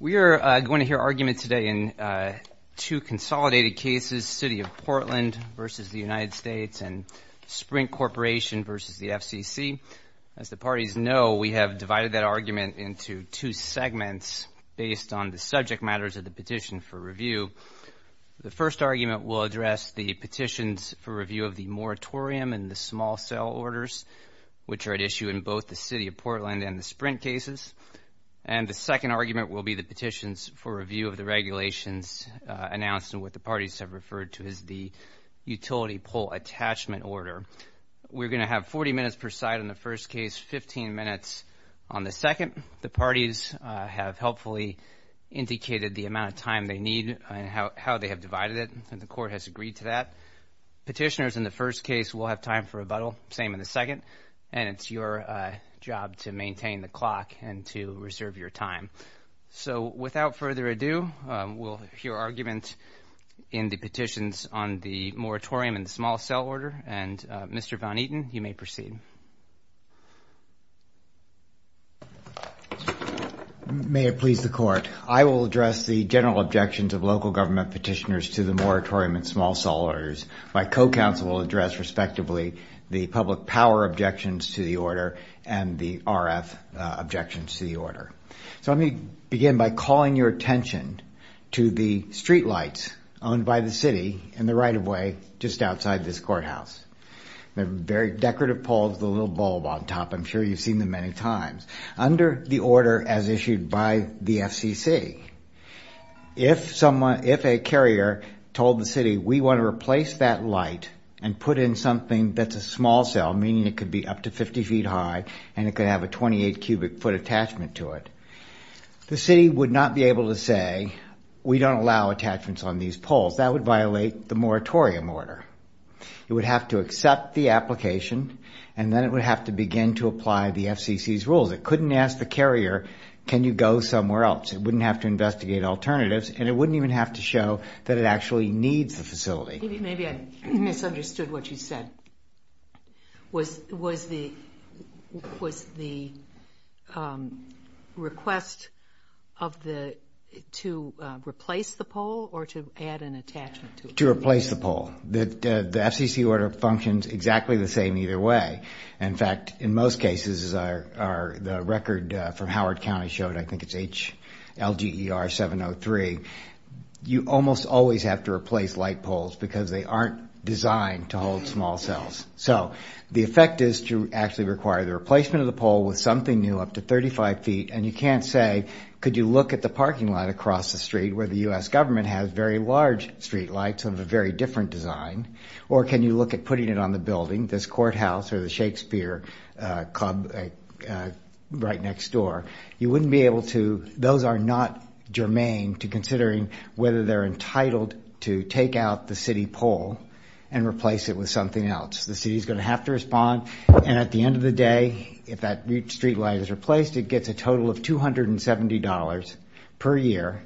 We are going to hear argument today in two consolidated cases, City of Portland v. the United States and Sprint Corporation v. the FCC. As the parties know, we have divided that argument into two segments based on the subject matters of the petition for review. The first argument will address the petitions for review of the moratorium and the small sale orders, which are at issue in both the City of Portland and the Sprint cases. And the second argument will be the petitions for review of the regulations announced and what the parties have referred to as the utility pull attachment order. We are going to have 40 minutes per side in the first case, 15 minutes on the second. The parties have helpfully indicated the amount of time they need and how they have divided it, and the court has agreed to that. Petitioners in the first case will have time for rebuttal, same in the second, and it's your job to maintain the clock and to reserve your time. So without further ado, we'll hear arguments in the petitions on the moratorium and the small sale order, and Mr. Von Eaton, you may proceed. May it please the court, I will address the general objections of local government petitioners to the moratorium and small sale orders. My co-counsel will address, respectively, the public power objections to the order and the RF objections to the order. So let me begin by calling your attention to the streetlights owned by the city in the right-of-way just outside this courthouse. Very decorative poles with a little bulb on top, I'm sure you've seen them many times. Under the order as issued by the FCC, if a carrier told the city, we want to replace that light and put in something that's a small sale, meaning it could be up to 50 feet high and it could have a 28 cubic foot attachment to it, the city would not be able to say, we don't allow attachments on these poles. That would violate the moratorium order. It would have to accept the application, and then it would have to begin to apply the FCC's rules. It couldn't ask the carrier, can you go somewhere else? It wouldn't have to investigate alternatives, and it wouldn't even have to show that it actually needs the facility. Maybe I misunderstood what you said. Was the request to replace the pole or to add an attachment to it? To replace the pole. The FCC order functions exactly the same either way. In fact, in most cases, the record from Howard County showed, I think it's HLGER703, you almost always have to replace light poles because they aren't designed to hold small cells. The effect is to actually require the replacement of the pole with something new up to 35 feet, and you can't say, could you look at the parking lot across the street where the U.S. government has very large street lights of a very different design, or can you look at putting it on the building, this courthouse or the Shakespeare Club right next door? You wouldn't be able to, those are not germane to considering whether they're entitled to take out the city pole and replace it with something else. The city is going to have to respond, and at the end of the day, if that street light is replaced, it gets a total of $270 per year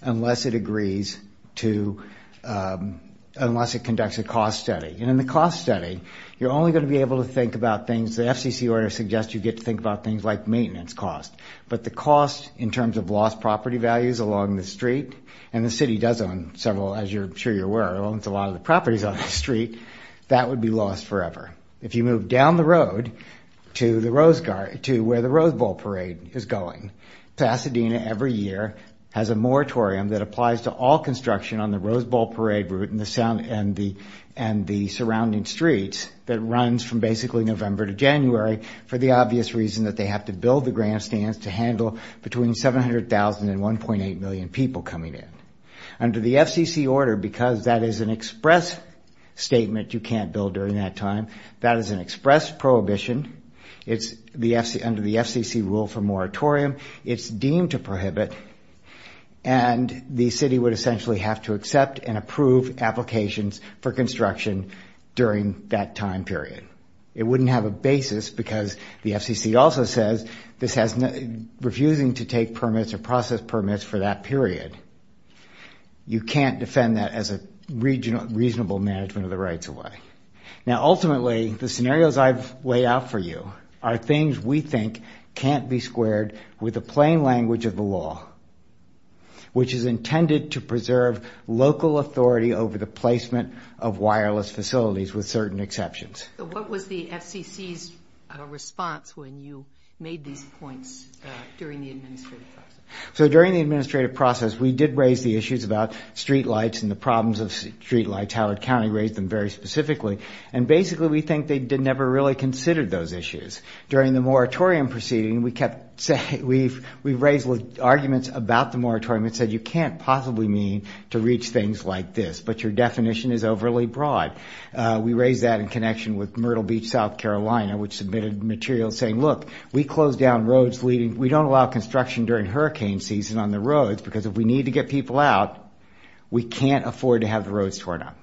unless it agrees to, unless it conducts a cost study. In the cost study, you're only going to be able to think about things, the FCC order suggests you get to think about things like maintenance costs, but the costs in terms of lost property values along the street, and the city does own several, as I'm sure you're aware, owns a lot of the properties on the street, that would be lost forever. If you move down the road to where the Rose Bowl Parade is going, Pasadena every year has a moratorium that applies to all construction on the Rose Bowl Parade route and the surrounding streets that runs from basically November to January for the obvious reason that they have to build the grandstands to handle between 700,000 and 1.8 million people coming in. Under the FCC order, because that is an express statement you can't build during that time, that is an express prohibition. Under the FCC rule for moratorium, it's deemed to prohibit and the city would essentially have to accept and approve applications for construction during that time period. It wouldn't have a basis because the FCC also says this has refusing to take permits or process permits for that period. You can't defend that as a reasonable management of the rights of life. Ultimately, the scenarios I've laid out for you are things we think can't be squared with the plain language of the law, which is intended to preserve local authority over the placement of wireless facilities with certain exceptions. What was the FCC's response when you made these points during the administrative process? We did raise the issues about streetlights and the problems of streetlights. Howard County raised them very specifically. Basically, we think they never really considered those issues. During the moratorium proceeding, we raised arguments about the moratorium and said you can't possibly mean to reach things like this, but your definition is overly broad. We raised that in connection with Myrtle Beach, South Carolina, which submitted material saying, look, we close down roads. We don't allow construction during hurricane season on the roads because if we need to get people out, we can't afford to have the roads torn up.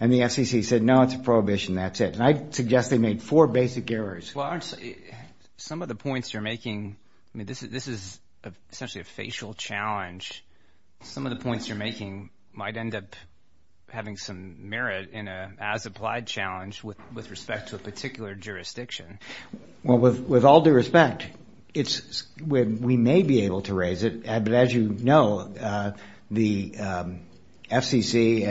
The FCC said, no, it's a prohibition. That's it. I suggest we make four basic errors. Some of the points you're making, this is essentially a facial challenge. Some of the points you're making might end up having some merit in an as-applied challenge with respect to a particular jurisdiction. With all due respect, we may be able to raise it, but as you know, the FCC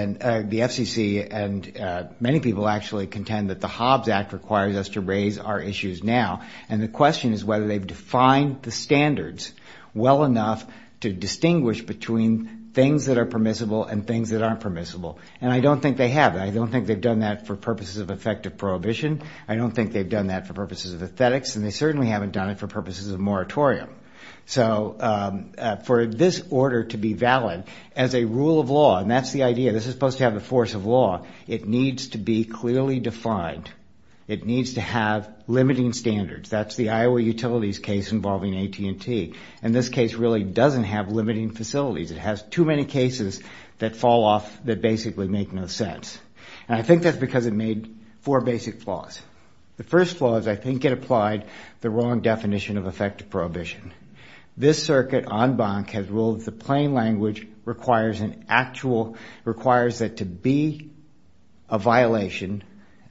and many people actually contend that the Hobbs Act requires us to raise our issues now. The question is whether they've defined the standards well enough to distinguish between things that are permissible and things that aren't permissible. I don't think they have. I don't think they've done that for purposes of effective prohibition. I don't think they've done that for purposes of aesthetics, and they certainly haven't done it for purposes of moratorium. So for this order to be valid as a rule of law, and that's the idea, this is supposed to have the force of law, it needs to be clearly defined. It needs to have limiting standards. That's the Iowa Utilities case involving AT&T, and this case really doesn't have limiting facilities. It has too many cases that fall off that basically make no sense. And I think that's because it made four basic flaws. The first flaw is I think it applied the wrong definition of effective prohibition. This circuit en banc has ruled that the plain language requires that to be a violation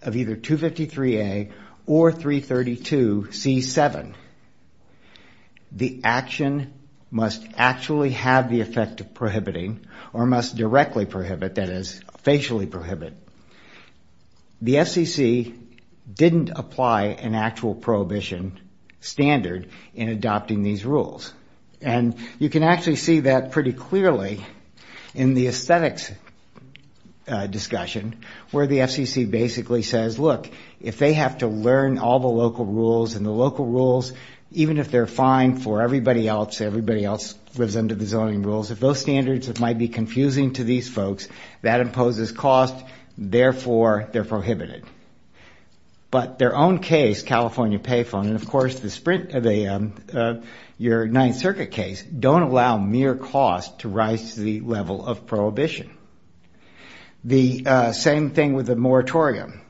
of either 253A or 332C7, the action must actually have the effect of prohibiting or must directly prohibit, that is, facially prohibit. The FCC didn't apply an actual prohibition standard in adopting these rules. And you can actually see that pretty clearly in the aesthetics discussion where the FCC basically says, look, if they have to learn all the local rules and the local rules, even if they're fine for everybody else, everybody else lives under the zoning rules, if those standards might be confusing to these folks, that imposes cost, therefore they're prohibited. But their own case, California Payphone, and, of course, your Ninth Circuit case, don't allow mere cost to rise to the level of prohibition. The same thing with the moratorium.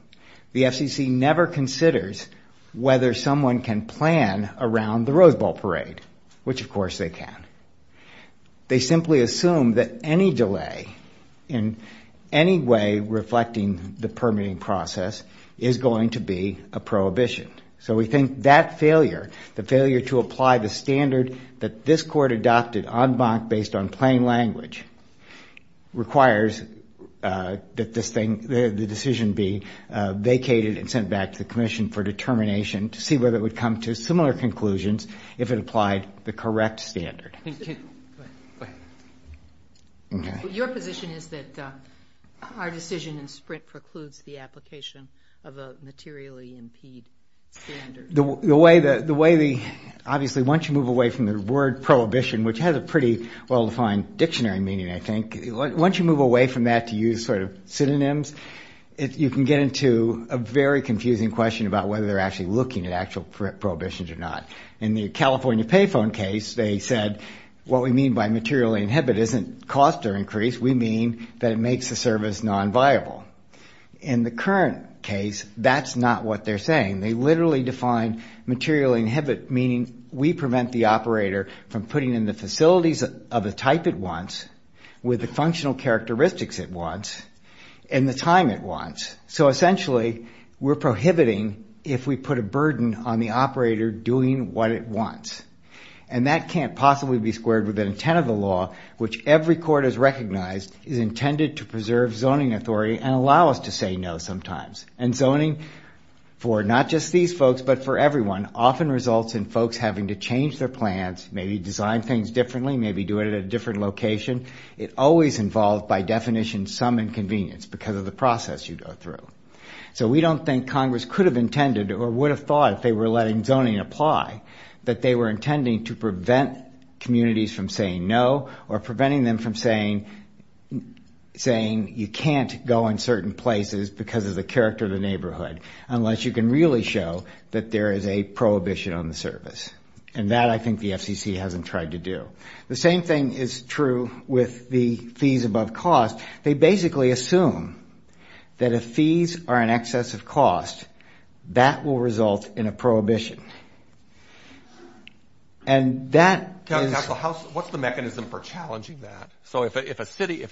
The FCC never considers whether someone can plan around the Rose Bowl parade, which, of course, they can. They simply assume that any delay in any way reflecting the permitting process is going to be a prohibition. So we think that failure, the failure to apply the standard that this court adopted en banc based on plain language, requires that the decision be vacated and sent back to the commission for determination to see whether it would come to similar conclusions if it applied the correct standard. Your position is that our decision in Sprint precludes the application of a materially impeded standard? Obviously, once you move away from the word prohibition, which has a pretty well-defined dictionary meaning, I think, once you move away from that to use sort of synonyms, you can get into a very confusing question about whether they're actually looking at actual prohibitions or not. In the California Payphone case, they said what we mean by materially inhibited isn't cost or increase, we mean that it makes the service non-viable. In the current case, that's not what they're saying. They literally define materially inhibited meaning we prevent the operator from putting in the facilities of the type it wants with the functional characteristics it wants and the time it wants. So essentially, we're prohibiting if we put a burden on the operator doing what it wants. And that can't possibly be squared with the intent of the law, which every court has recognized is intended to preserve zoning authority and allow us to say no sometimes. And zoning for not just these folks but for everyone often results in folks having to change their plans, maybe design things differently, maybe do it at a different location. It always involves, by definition, some inconvenience because of the process you go through. So we don't think Congress could have intended or would have thought if they were letting zoning apply that they were intending to prevent communities from saying no or preventing them from saying you can't go in certain places because of the character of the neighborhood unless you can really show that there is a prohibition on the service. And that I think the FCC hasn't tried to do. The same thing is true with the fees above cost. They basically assume that if fees are in excess of cost, that will result in a prohibition. What's the mechanism for challenging that? So if a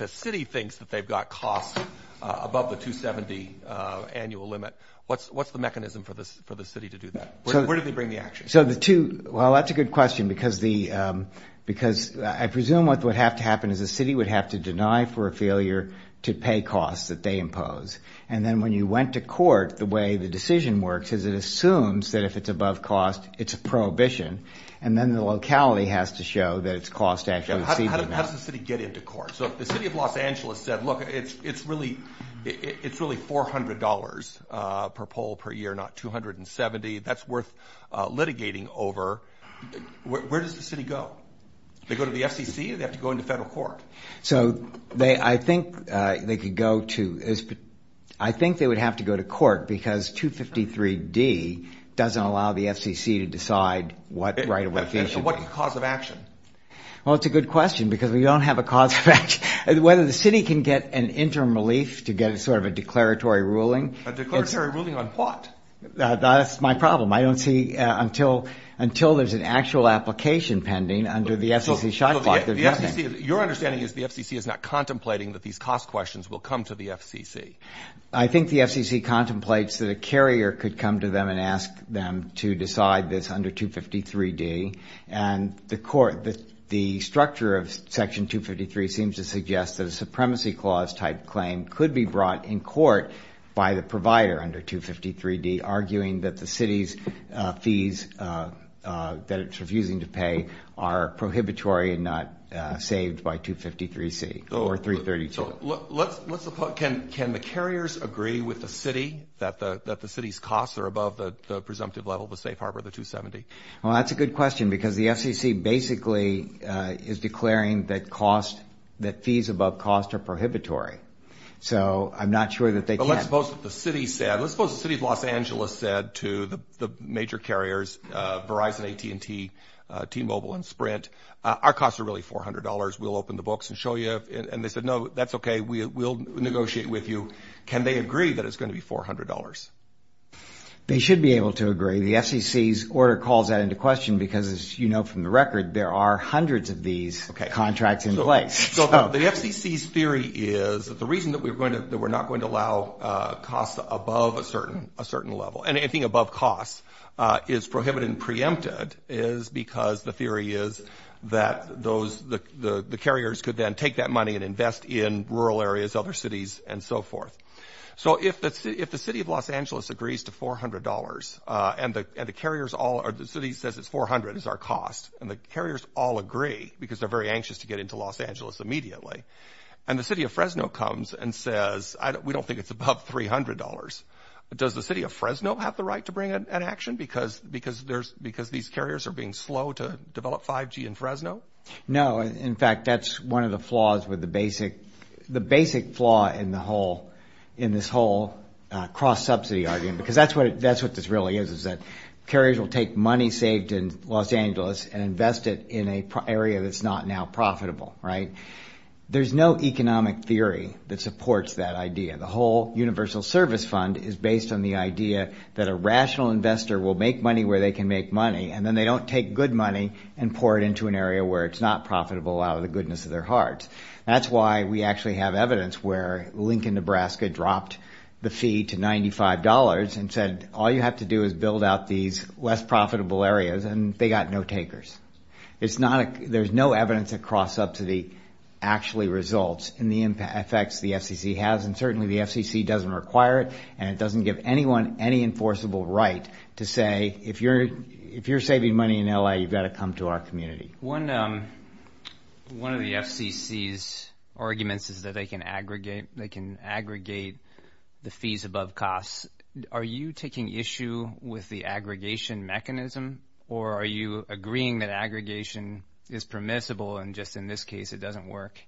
city thinks that they've got costs above the 270 annual limit, what's the mechanism for the city to do that? Where does it bring the action? Well, that's a good question because I presume what would have to happen is the city would have to deny for a failure to pay costs that they impose. And then when you went to court, the way the decision works is it assumes that if it's above cost, it's a prohibition, and then the locality has to show that it's cost actually exceeds the limit. How does the city get into court? So if the city of Los Angeles said, look, it's really $400 per poll per year, not 270, that's worth litigating over, where does the city go? They go to the FCC or they have to go into federal court? So I think they would have to go to court because 253D doesn't allow the FCC to decide what right of location. So what's the cause of action? Well, it's a good question because we don't have a cause of action. Whether the city can get an interim relief to get sort of a declaratory ruling. A declaratory ruling on what? That's my problem. I don't see until there's an actual application pending under the FCC shot clock. Your understanding is the FCC is not contemplating that these cost questions will come to the FCC. I think the FCC contemplates that a carrier could come to them and ask them to decide this under 253D, and the structure of Section 253 seems to suggest that a supremacy clause-type claim could be brought in court by the provider under 253D, arguing that the city's fees that it's refusing to pay are prohibitory and not saved by 253C or 332. Can the carriers agree with the city that the city's costs are above the presumptive level, the safe harbor, the 270? Well, that's a good question because the FCC basically is declaring that fees above cost are prohibitory. So I'm not sure that they can. But let's suppose the city said, let's suppose the city of Los Angeles said to the major carriers Verizon, AT&T, T-Mobile, and Sprint, our costs are really $400, we'll open the books and show you. And they said, no, that's okay, we'll negotiate with you. Can they agree that it's going to be $400? They should be able to agree. The FCC's order calls that into question because, as you know from the record, there are hundreds of these contracts in place. So the FCC's theory is that the reason that we're not going to allow costs above a certain level and anything above cost is prohibited and preempted is because the theory is that the carriers could then take that money and invest in rural areas, other cities, and so forth. So if the city of Los Angeles agrees to $400, and the city says it's $400, it's our costs, and the carriers all agree because they're very anxious to get into Los Angeles immediately, and the city of Fresno comes and says, we don't think it's above $300, does the city of Fresno have the right to bring an action because these carriers are being slow to develop 5G in Fresno? No, in fact, that's one of the flaws with the basic flaw in this whole cross-subsidy argument because that's what this really is, is that carriers will take money saved in Los Angeles and invest it in an area that's not now profitable, right? There's no economic theory that supports that idea. The whole universal service fund is based on the idea that a rational investor will make money where they can make money, and then they don't take good money and pour it into an area where it's not profitable out of the goodness of their heart. That's why we actually have evidence where Lincoln, Nebraska dropped the fee to $95 and said all you have to do is build out these less profitable areas, and they got no takers. There's no evidence of cross-subsidy actually results in the effects the FCC has, and certainly the FCC doesn't require it, and it doesn't give anyone any enforceable right to say, if you're saving money in LA, you've got to come to our community. One of the FCC's arguments is that they can aggregate the fees above costs. Are you taking issue with the aggregation mechanism, or are you agreeing that aggregation is permissible and just in this case it doesn't work?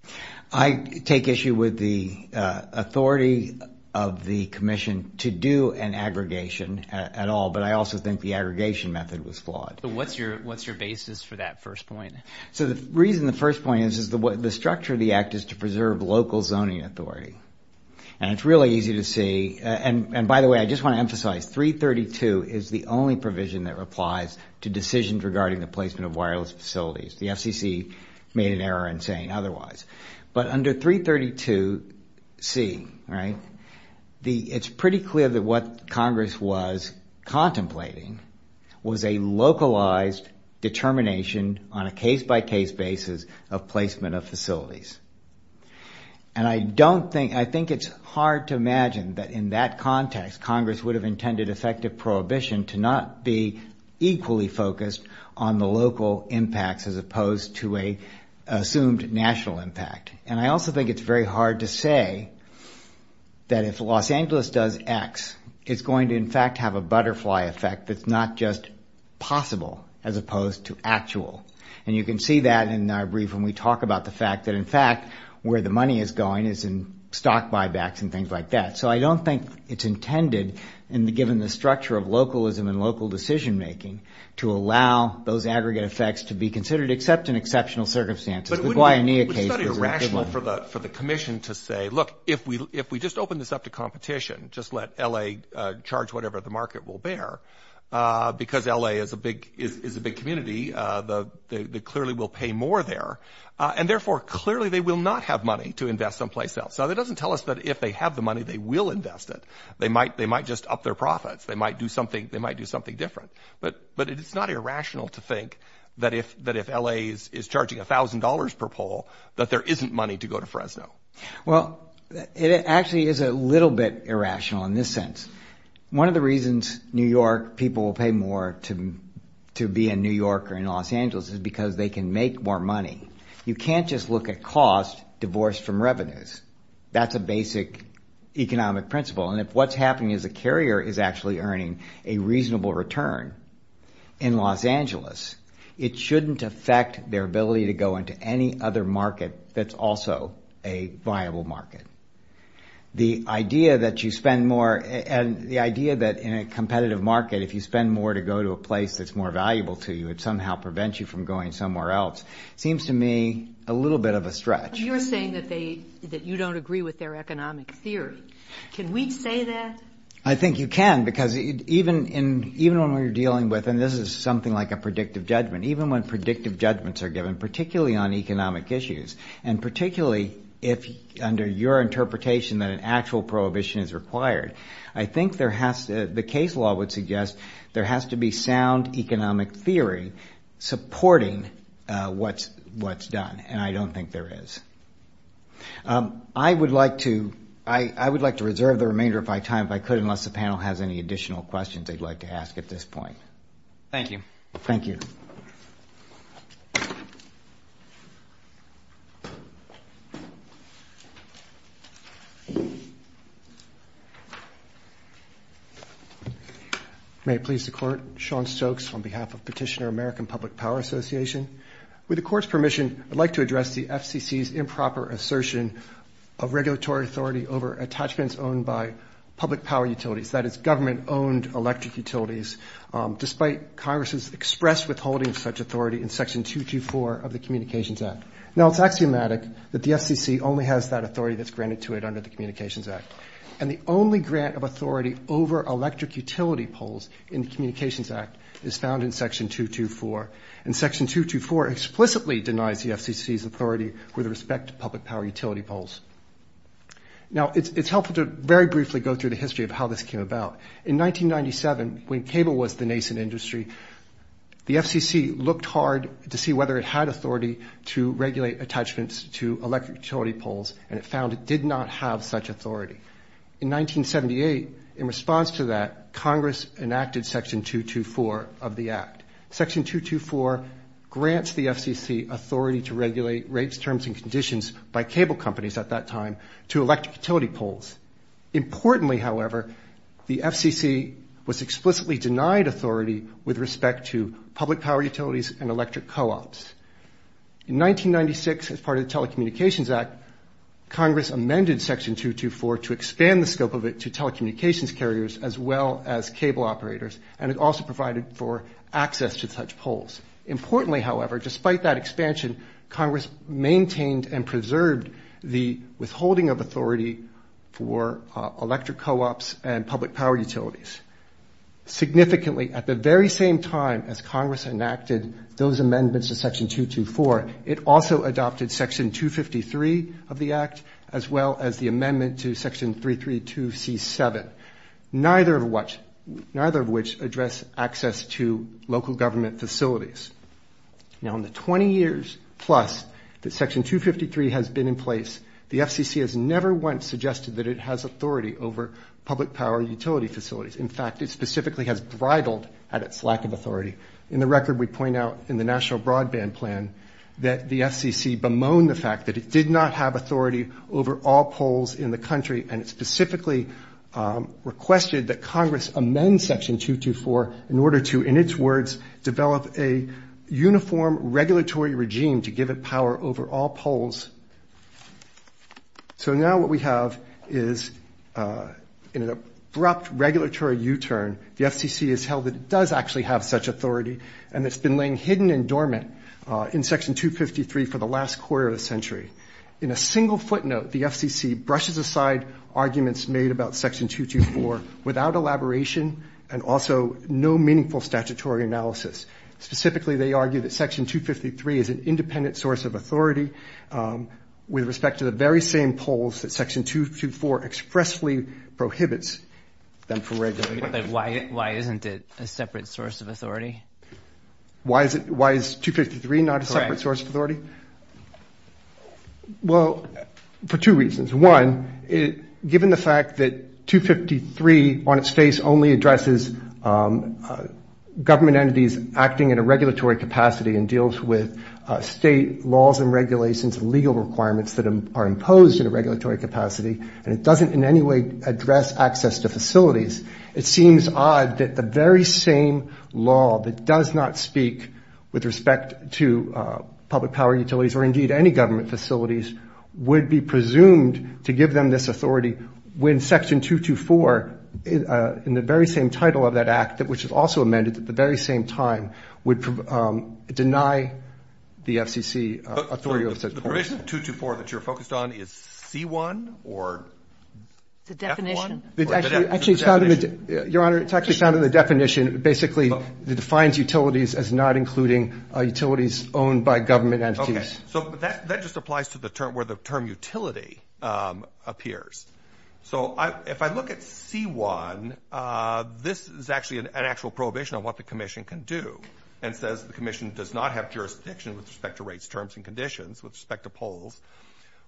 I take issue with the authority of the commission to do an aggregation at all, but I also think the aggregation method was flawed. What's your basis for that first point? The reason the first point is the structure of the act is to preserve local zoning authority, and it's really easy to see, and by the way, I just want to emphasize, 332 is the only provision that applies to decisions regarding the placement of wireless facilities. The FCC made an error in saying otherwise. But under 332C, it's pretty clear that what Congress was contemplating was a localized determination on a case-by-case basis of placement of facilities. And I think it's hard to imagine that in that context, Congress would have intended effective prohibition to not be equally focused on the local impact as opposed to an assumed national impact. And I also think it's very hard to say that if Los Angeles does X, it's going to, in fact, have a butterfly effect that's not just possible as opposed to actual. And you can see that in our brief when we talk about the fact that, in fact, where the money is going is in stock buybacks and things like that. So I don't think it's intended, and given the structure of localism and local decision-making, to allow those aggregate effects to be considered except in exceptional circumstances. It's not irrational for the commission to say, look, if we just open this up to competition, just let L.A. charge whatever the market will bear, because L.A. is a big community. They clearly will pay more there. And therefore, clearly, they will not have money to invest someplace else. Now, that doesn't tell us that if they have the money, they will invest it. They might just up their profits. They might do something different. But it's not irrational to think that if L.A. is charging $1,000 per poll, that there isn't money to go to Fresno. Well, it actually is a little bit irrational in this sense. One of the reasons New York people will pay more to be in New York or in Los Angeles is because they can make more money. You can't just look at cost divorced from revenues. That's a basic economic principle. And if what's happening is a carrier is actually earning a reasonable return in Los Angeles, it shouldn't affect their ability to go into any other market that's also a viable market. The idea that you spend more and the idea that in a competitive market, if you spend more to go to a place that's more valuable to you, it somehow prevents you from going somewhere else seems to me a little bit of a stretch. You're saying that you don't agree with their economic theory. Can we say that? I think you can because even when we're dealing with, and this is something like a predictive judgment, even when predictive judgments are given, particularly on economic issues, and particularly under your interpretation that an actual prohibition is required, I think the case law would suggest there has to be sound economic theory supporting what's done. And I don't think there is. I would like to reserve the remainder of my time if I could, unless the panel has any additional questions they'd like to ask at this point. Thank you. Thank you. May it please the court. Sean Stokes on behalf of Petitioner American Public Power Association. With the court's permission, I'd like to address the FCC's improper assertion of regulatory authority over attachments owned by public power utilities, that is government-owned electric utilities, despite Congress's expressed withholding of such authority in Section 224 of the Communications Act. Now, it's axiomatic that the FCC only has that authority that's granted to it under the Communications Act, and the only grant of authority over electric utility poles in the Communications Act is found in Section 224. And Section 224 explicitly denies the FCC's authority with respect to public power utility poles. Now, it's helpful to very briefly go through the history of how this came about. In 1997, when cable was the nascent industry, the FCC looked hard to see whether it had authority to regulate attachments to electric utility poles, and it found it did not have such authority. In 1978, in response to that, Congress enacted Section 224 of the Act. Section 224 grants the FCC authority to regulate rates, terms, and conditions by cable companies at that time to electric utility poles. Importantly, however, the FCC was explicitly denied authority with respect to public power utilities and electric co-ops. In 1996, as part of the Telecommunications Act, Congress amended Section 224 to expand the scope of it to telecommunications carriers as well as cable operators, and it also provided for access to such poles. Importantly, however, despite that expansion, Congress maintained and preserved the withholding of authority for electric co-ops and public power utilities. Significantly, at the very same time as Congress enacted those amendments to Section 224, it also adopted Section 253 of the Act as well as the amendment to Section 332C7, neither of which address access to local government facilities. Now, in the 20 years plus that Section 253 has been in place, the FCC has never once suggested that it has authority over public power utility facilities. In fact, it specifically has rivaled at its lack of authority. In the record, we point out in the National Broadband Plan that the FCC bemoaned the fact that it did not have authority over all poles in the country, and specifically requested that Congress amend Section 224 in order to, in its words, develop a uniform regulatory regime to give it power over all poles. So now what we have is an abrupt regulatory U-turn. The FCC has held that it does actually have such authority, and it's been laying hidden and dormant in Section 253 for the last quarter of a century. In a single footnote, the FCC brushes aside arguments made about Section 224 without elaboration and also no meaningful statutory analysis. Specifically, they argue that Section 253 is an independent source of authority with respect to the very same poles that Section 224 expressly prohibits. Why isn't it a separate source of authority? Why is 253 not a separate source of authority? Well, for two reasons. One, given the fact that 253 on its face only addresses government entities acting at a regulatory capacity and deals with state laws and regulations and legal requirements that are imposed at a regulatory capacity, and it doesn't in any way address access to facilities, it seems odd that the very same law that does not speak with respect to public power utilities or indeed any government facilities would be presumed to give them this authority when Section 224 in the very same title of that act, which is also amended at the very same time, would deny the FCC authority over Section 224. The reason 224 that you're focused on is C-1 or F-1? Your Honor, it's actually kind of the definition. Basically, it defines utilities as not including utilities owned by government entities. Okay. So that just applies to where the term utility appears. So if I look at C-1, this is actually an actual prohibition on what the commission can do and says the commission does not have jurisdiction with respect to rates, terms, and conditions with respect to poles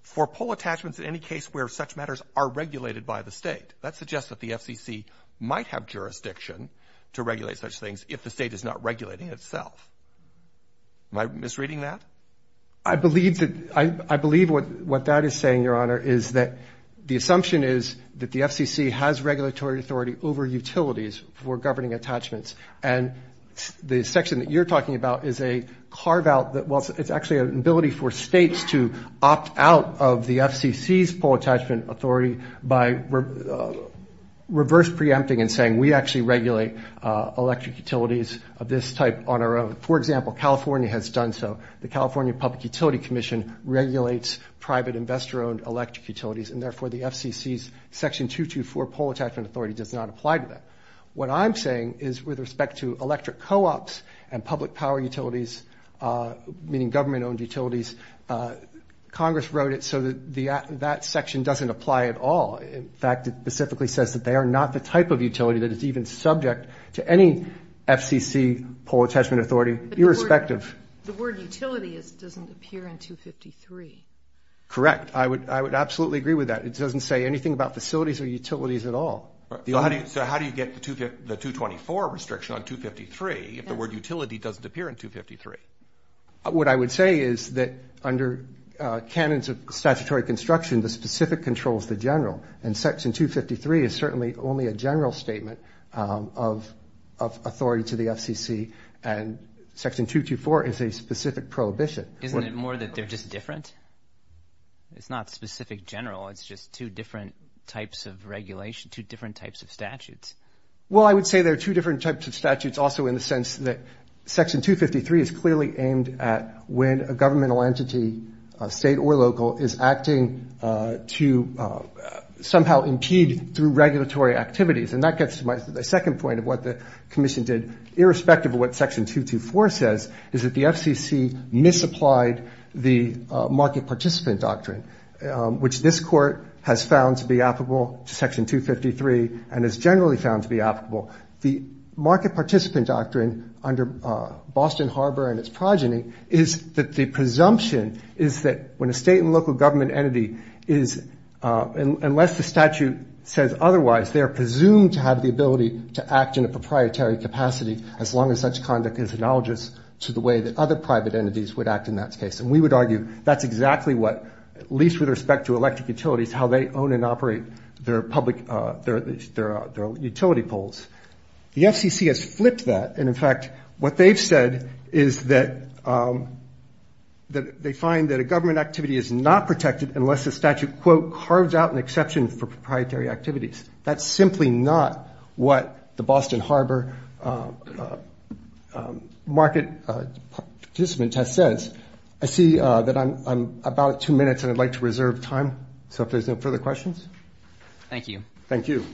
for pole attachments in any case where such matters are regulated by the state. That suggests that the FCC might have jurisdiction to regulate such things if the state is not regulating itself. Am I misreading that? I believe what that is saying, Your Honor, is that the assumption is that the FCC has regulatory authority over utilities for governing attachments, and the section that you're talking about is a carve-out. Well, it's actually an ability for states to opt out of the FCC's pole attachment authority by reverse preempting and saying we actually regulate electric utilities of this type on our own. For example, California has done so. The California Public Utility Commission regulates private investor-owned electric utilities, and therefore the FCC's Section 224 pole attachment authority does not apply to that. What I'm saying is with respect to electric co-ops and public power utilities, meaning government-owned utilities, Congress wrote it so that that section doesn't apply at all. In fact, it specifically says that they are not the type of utility that is even subject to any FCC pole attachment authority, irrespective. The word utility doesn't appear in 253. Correct. I would absolutely agree with that. It doesn't say anything about facilities or utilities at all. So how do you get the 224 restriction on 253 if the word utility doesn't appear in 253? What I would say is that under canons of statutory construction, the specific controls the general, and Section 253 is certainly only a general statement of authority to the FCC, and Section 224 is a specific prohibition. Isn't it more that they're just different? It's not specific general. It's just two different types of regulation, two different types of statutes. Well, I would say there are two different types of statutes also in the sense that Section 253 is clearly aimed at when a governmental entity, state or local, is acting to somehow impede through regulatory activities, and that gets to my second point of what the Commission did, irrespective of what Section 224 says, is that the FCC misapplied the market participant doctrine, which this Court has found to be applicable to Section 253 and has generally found to be applicable. The market participant doctrine under Boston Harbor and its progeny is that the presumption is that when a state and local government entity is, unless the statute says otherwise, that they are presumed to have the ability to act in a proprietary capacity as long as such conduct is analogous to the way that other private entities would act in that case. And we would argue that's exactly what, at least with respect to electric utilities, how they own and operate their public, their utility poles. The FCC has flipped that, and in fact, what they've said is that they find that a government activity is not protected unless the statute, quote, carves out an exception for proprietary activities. That's simply not what the Boston Harbor market participant test says. I see that I'm about two minutes, and I'd like to reserve time, so if there's no further questions. Thank you. Thank you.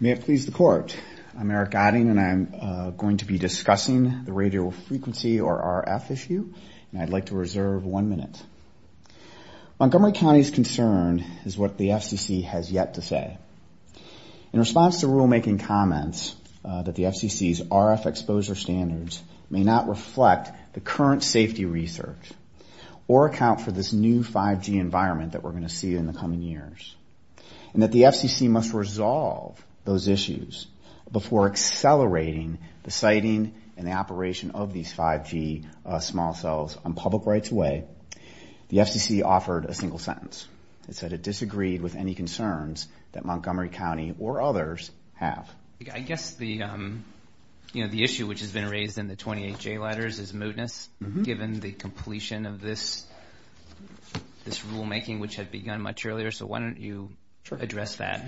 May it please the Court, I'm Eric Adding, and I'm going to be discussing the radio frequency or RF issue, and I'd like to reserve one minute. Montgomery County's concern is what the FCC has yet to say. In response to rulemaking comments that the FCC's RF exposure standards may not reflect the current safety research or account for this new 5G environment that we're going to see in the coming years, and that the FCC must resolve those issues before accelerating the siting and the operation of these 5G small cells on public rights-of-way, the FCC offered a single sentence. It said it disagreed with any concerns that Montgomery County or others have. I guess the issue which has been raised in the 28J letters is mootness, given the completion of this rulemaking which had begun much earlier, so why don't you address that?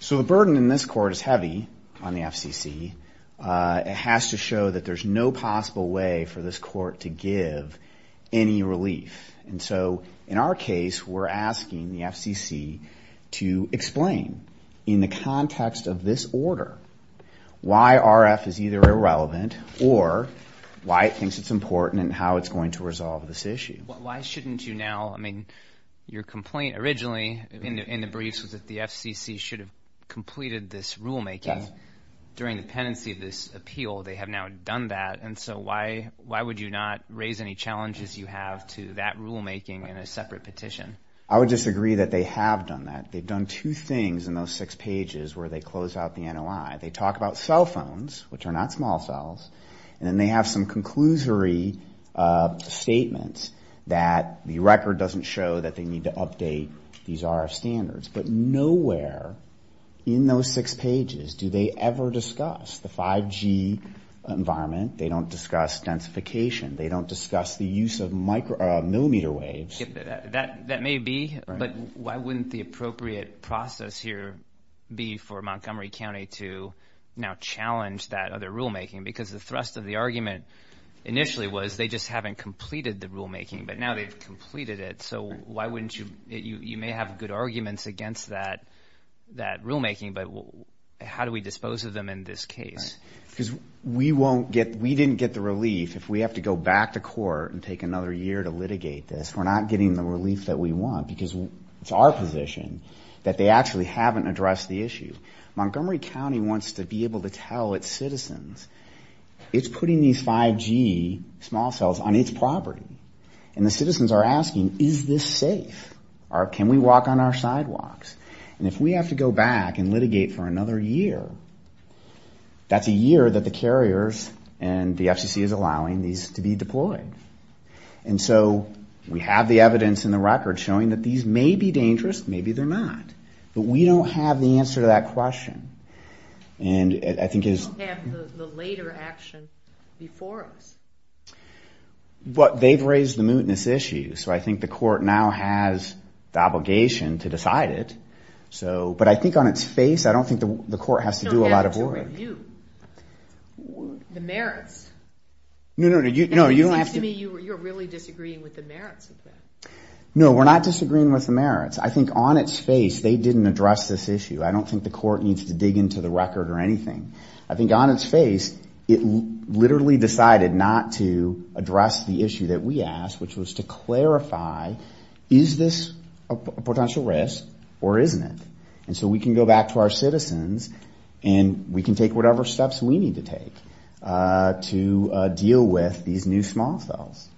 So the burden in this Court is heavy on the FCC. It has to show that there's no possible way for this Court to give any relief. And so in our case, we're asking the FCC to explain in the context of this order why RF is either irrelevant or why it thinks it's important and how it's going to resolve this issue. Well, why shouldn't you now? I mean, your complaint originally in the briefs was that the FCC should have completed this rulemaking during the tenancy of this appeal. They have now done that. And so why would you not raise any challenges you have to that rulemaking in a separate petition? I would just agree that they have done that. They've done two things in those six pages where they close out the NOI. They talk about cell phones, which are not small cells, and then they have some conclusory statements that the record doesn't show that they need to update these RF standards. But nowhere in those six pages do they ever discuss the 5G environment. They don't discuss densification. They don't discuss the use of millimeter waves. That may be, but why wouldn't the appropriate process here be for Montgomery County to now challenge that other rulemaking? Because the thrust of the argument initially was they just haven't completed the rulemaking, but now they've completed it. So you may have good arguments against that rulemaking, but how do we dispose of them in this case? Because we didn't get the relief if we have to go back to court and take another year to litigate this. We're not getting the relief that we want because it's our position that they actually haven't addressed the issue. Montgomery County wants to be able to tell its citizens it's putting these 5G small cells on its property. And the citizens are asking, is this safe? Can we walk on our sidewalks? And if we have to go back and litigate for another year, that's a year that the carriers and the FCC is allowing these to be deployed. And so we have the evidence in the record showing that these may be dangerous, maybe they're not. But we don't have the answer to that question. We don't have the later action before us. But they've raised the mootness issue, so I think the court now has the obligation to decide it. But I think on its face, I don't think the court has to do a lot of work. No, we have to review the merits. No, no, no. You're really disagreeing with the merits of this. No, we're not disagreeing with the merits. I think on its face, they didn't address this issue. I don't think the court needs to dig into the record or anything. I think on its face, it literally decided not to address the issue that we asked, which was to clarify, is this a potential risk or isn't it? And so we can go back to our citizens and we can take whatever steps we need to take to deal with these new small cells.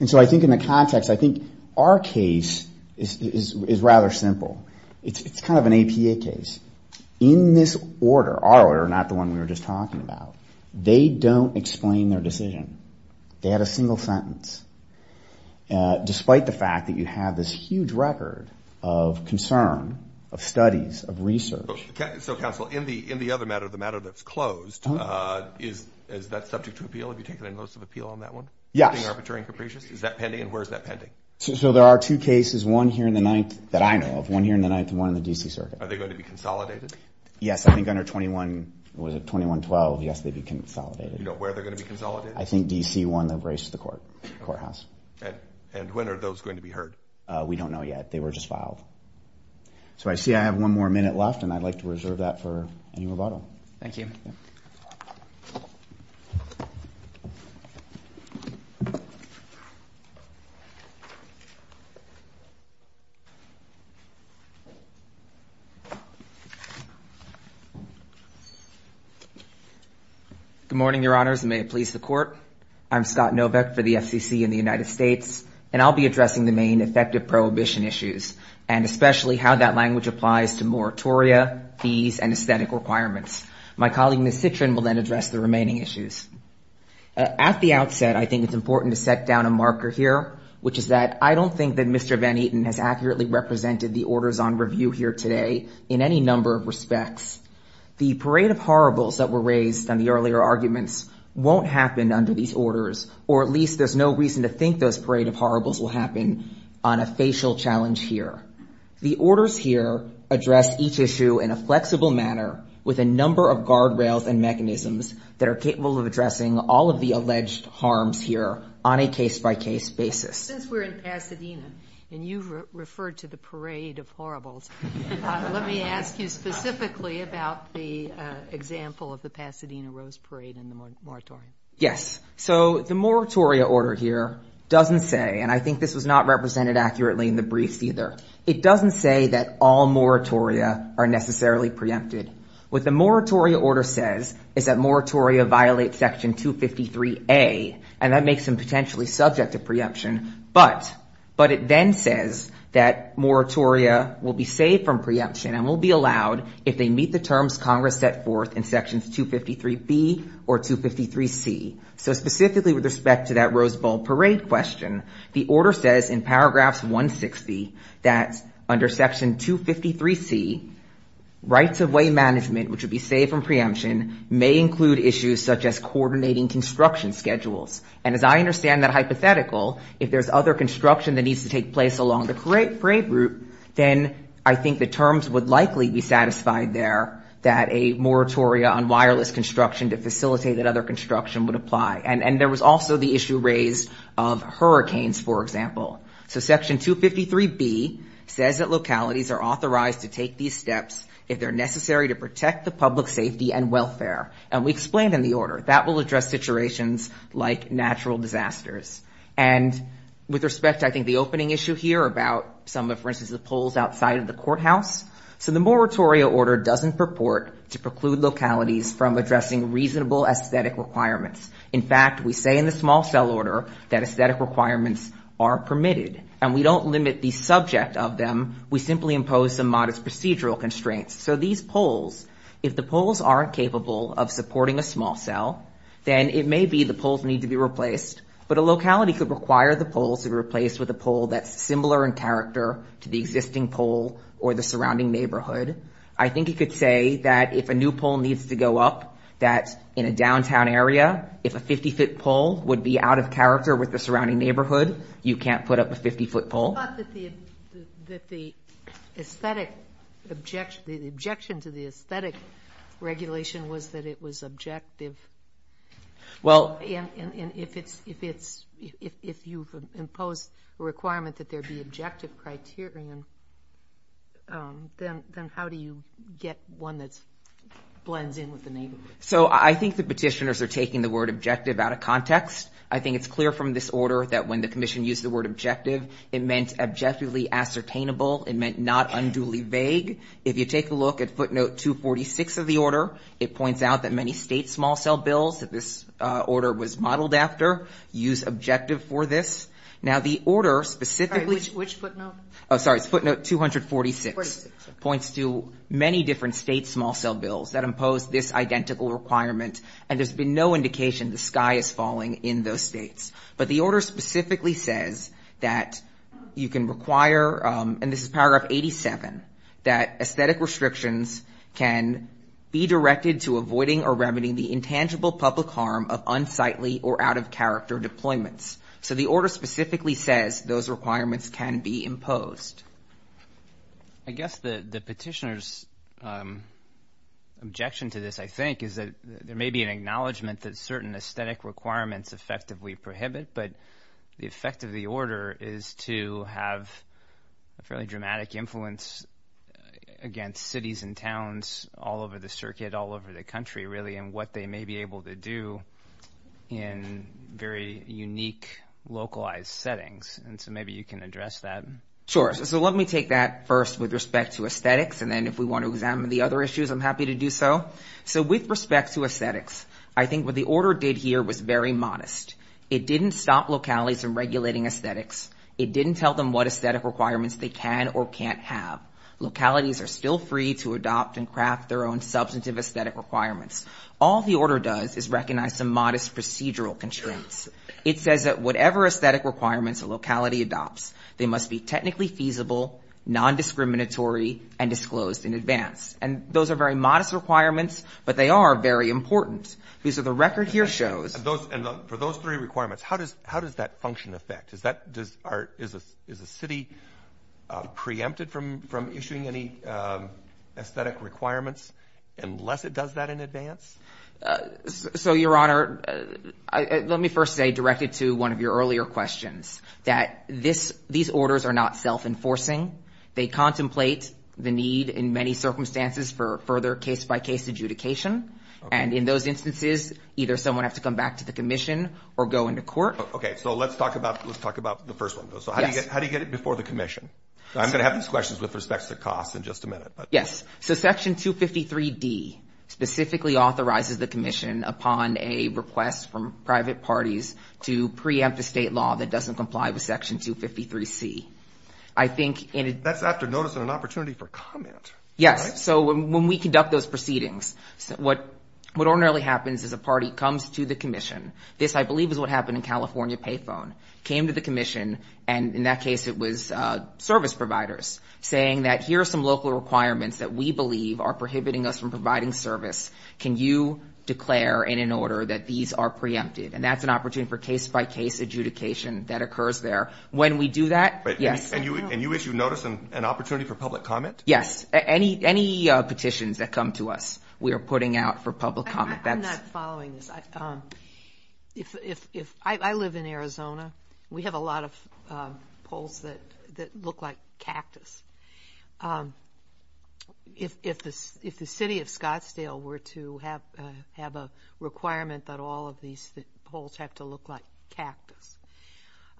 And so I think in the context, I think our case is rather simple. It's kind of an APA case. In this order, our order, not the one we were just talking about, they don't explain their decision. They had a single sentence, despite the fact that you have this huge record of concern, of studies, of research. So, counsel, in the other matter, the matter that's closed, is that subject to appeal? Have you taken a notice of appeal on that one? Yeah. Is that pending? Where is that pending? So there are two cases, one here in the ninth that I know of, one here in the ninth and one in the D.C. Circuit. Are they going to be consolidated? Yes, I think under 21, was it 21-12? Yes, they'd be consolidated. Do you know where they're going to be consolidated? I think D.C. won the race to the courthouse. And when are those going to be heard? We don't know yet. They were just filed. So, I see I have one more minute left, and I'd like to reserve that for Amy Roboto. Thank you. Good morning, Your Honors, and may it please the Court. I'm Scott Novick for the FCC in the United States, and I'll be addressing the main effective prohibition issues. And especially how that language applies to moratoria, fees, and aesthetic requirements. My colleague, Ms. Citrin, will then address the remaining issues. At the outset, I think it's important to set down a marker here, which is that I don't think that Mr. Van Eaton has accurately represented the orders on review here today in any number of respects. The parade of horribles that were raised on the earlier arguments won't happen under these orders, or at least there's no reason to think those parade of horribles will happen on a facial challenge here. The orders here address each issue in a flexible manner with a number of guardrails and mechanisms that are capable of addressing all of the alleged harms here on a case-by-case basis. Since we're in Pasadena, and you referred to the parade of horribles, let me ask you specifically about the example of the Pasadena Rose Parade and the moratoria. Yes. So the moratoria order here doesn't say, and I think this was not represented accurately in the brief either, it doesn't say that all moratoria are necessarily preempted. What the moratoria order says is that moratoria violates Section 253A, and that makes them potentially subject to preemption. But it then says that moratoria will be saved from preemption and will be allowed if they meet the terms Congress set forth in Sections 253B or 253C. So specifically with respect to that Rose Bowl Parade question, the order says in Paragraphs 160 that under Section 253C, rights of way management, which would be saved from preemption, may include issues such as coordinating construction schedules. And as I understand that hypothetical, if there's other construction that needs to take place along the parade route, then I think the terms would likely be satisfied there, that a moratoria on wireless construction to facilitate that other construction would apply. And there was also the issue raised of hurricanes, for example. So Section 253B says that localities are authorized to take these steps if they're necessary to protect the public safety and welfare. And we explained in the order, that will address situations like natural disasters. And with respect to, I think, the opening issue here about some of, for instance, the poles outside of the courthouse. So the moratoria order doesn't purport to preclude localities from addressing reasonable aesthetic requirements. In fact, we say in the small cell order that aesthetic requirements are permitted. And we don't limit the subject of them. We simply impose the modest procedural constraints. So these poles, if the poles aren't capable of supporting a small cell, then it may be the poles need to be replaced. But a locality could require the pole to be replaced with a pole that's similar in character to the existing pole or the surrounding neighborhood. I think you could say that if a new pole needs to go up, that in a downtown area, if a 50-foot pole would be out of character with the surrounding neighborhood, you can't put up a 50-foot pole. The objection to the aesthetic regulation was that it was objective. And if you've imposed a requirement that there be objective criteria, then how do you get one that blends in with the neighborhood? So I think the petitioners are taking the word objective out of context. I think it's clear from this order that when the commission used the word objective, it meant objectively ascertainable. It meant not unduly vague. If you take a look at footnote 246 of the order, it points out that many state small cell bills that this order was modeled after use objective for this. Now the order specifically – Which footnote? Oh, sorry. Footnote 246 points to many different state small cell bills that impose this identical requirement. And there's been no indication the sky is falling in those states. But the order specifically says that you can require, and this is paragraph 87, that aesthetic restrictions can be directed to avoiding or remedying the intangible public harm of unsightly or out-of-character deployments. So the order specifically says those requirements can be imposed. I guess the petitioner's objection to this, I think, is that there may be an acknowledgment that certain aesthetic requirements effectively prohibit, but the effect of the order is to have a fairly dramatic influence against cities and towns all over the circuit, all over the country, really, and what they may be able to do in very unique localized settings. And so maybe you can address that. Sure. So let me take that first with respect to aesthetics, and then if we want to examine the other issues, I'm happy to do so. So with respect to aesthetics, I think what the order did here was very modest. It didn't stop localities from regulating aesthetics. It didn't tell them what aesthetic requirements they can or can't have. Localities are still free to adopt and craft their own substantive aesthetic requirements. All the order does is recognize some modest procedural constraints. It says that whatever aesthetic requirements a locality adopts, they must be technically feasible, nondiscriminatory, and disclosed in advance. And those are very modest requirements, but they are very important. The record here shows. For those three requirements, how does that function affect? Is a city preempted from issuing any aesthetic requirements unless it does that in advance? So, Your Honor, let me first say, directed to one of your earlier questions, that these orders are not self-enforcing. They contemplate the need in many circumstances for further case-by-case adjudication. And in those instances, either someone has to come back to the commission or go into court. Okay, so let's talk about the first one. So how do you get it before the commission? I'm going to have these questions with respect to the cost in just a minute. Yes. So Section 253D specifically authorizes the commission upon a request from private parties to preempt a state law that doesn't comply with Section 253C. That's after noticing an opportunity for comment. Yes. So when we conduct those proceedings, what ordinarily happens is a party comes to the commission. This, I believe, is what happened in California Payphone. Came to the commission, and in that case it was service providers, saying that here are some local requirements that we believe are prohibiting us from providing service. Can you declare in an order that these are preempted? And that's an opportunity for case-by-case adjudication that occurs there. When we do that, yes. And you issue notice and opportunity for public comment? Yes. Any petitions that come to us we are putting out for public comment. I'm not following this. I live in Arizona. We have a lot of polls that look like cactus. If the city of Scottsdale were to have a requirement that all of these polls have to look like cactus,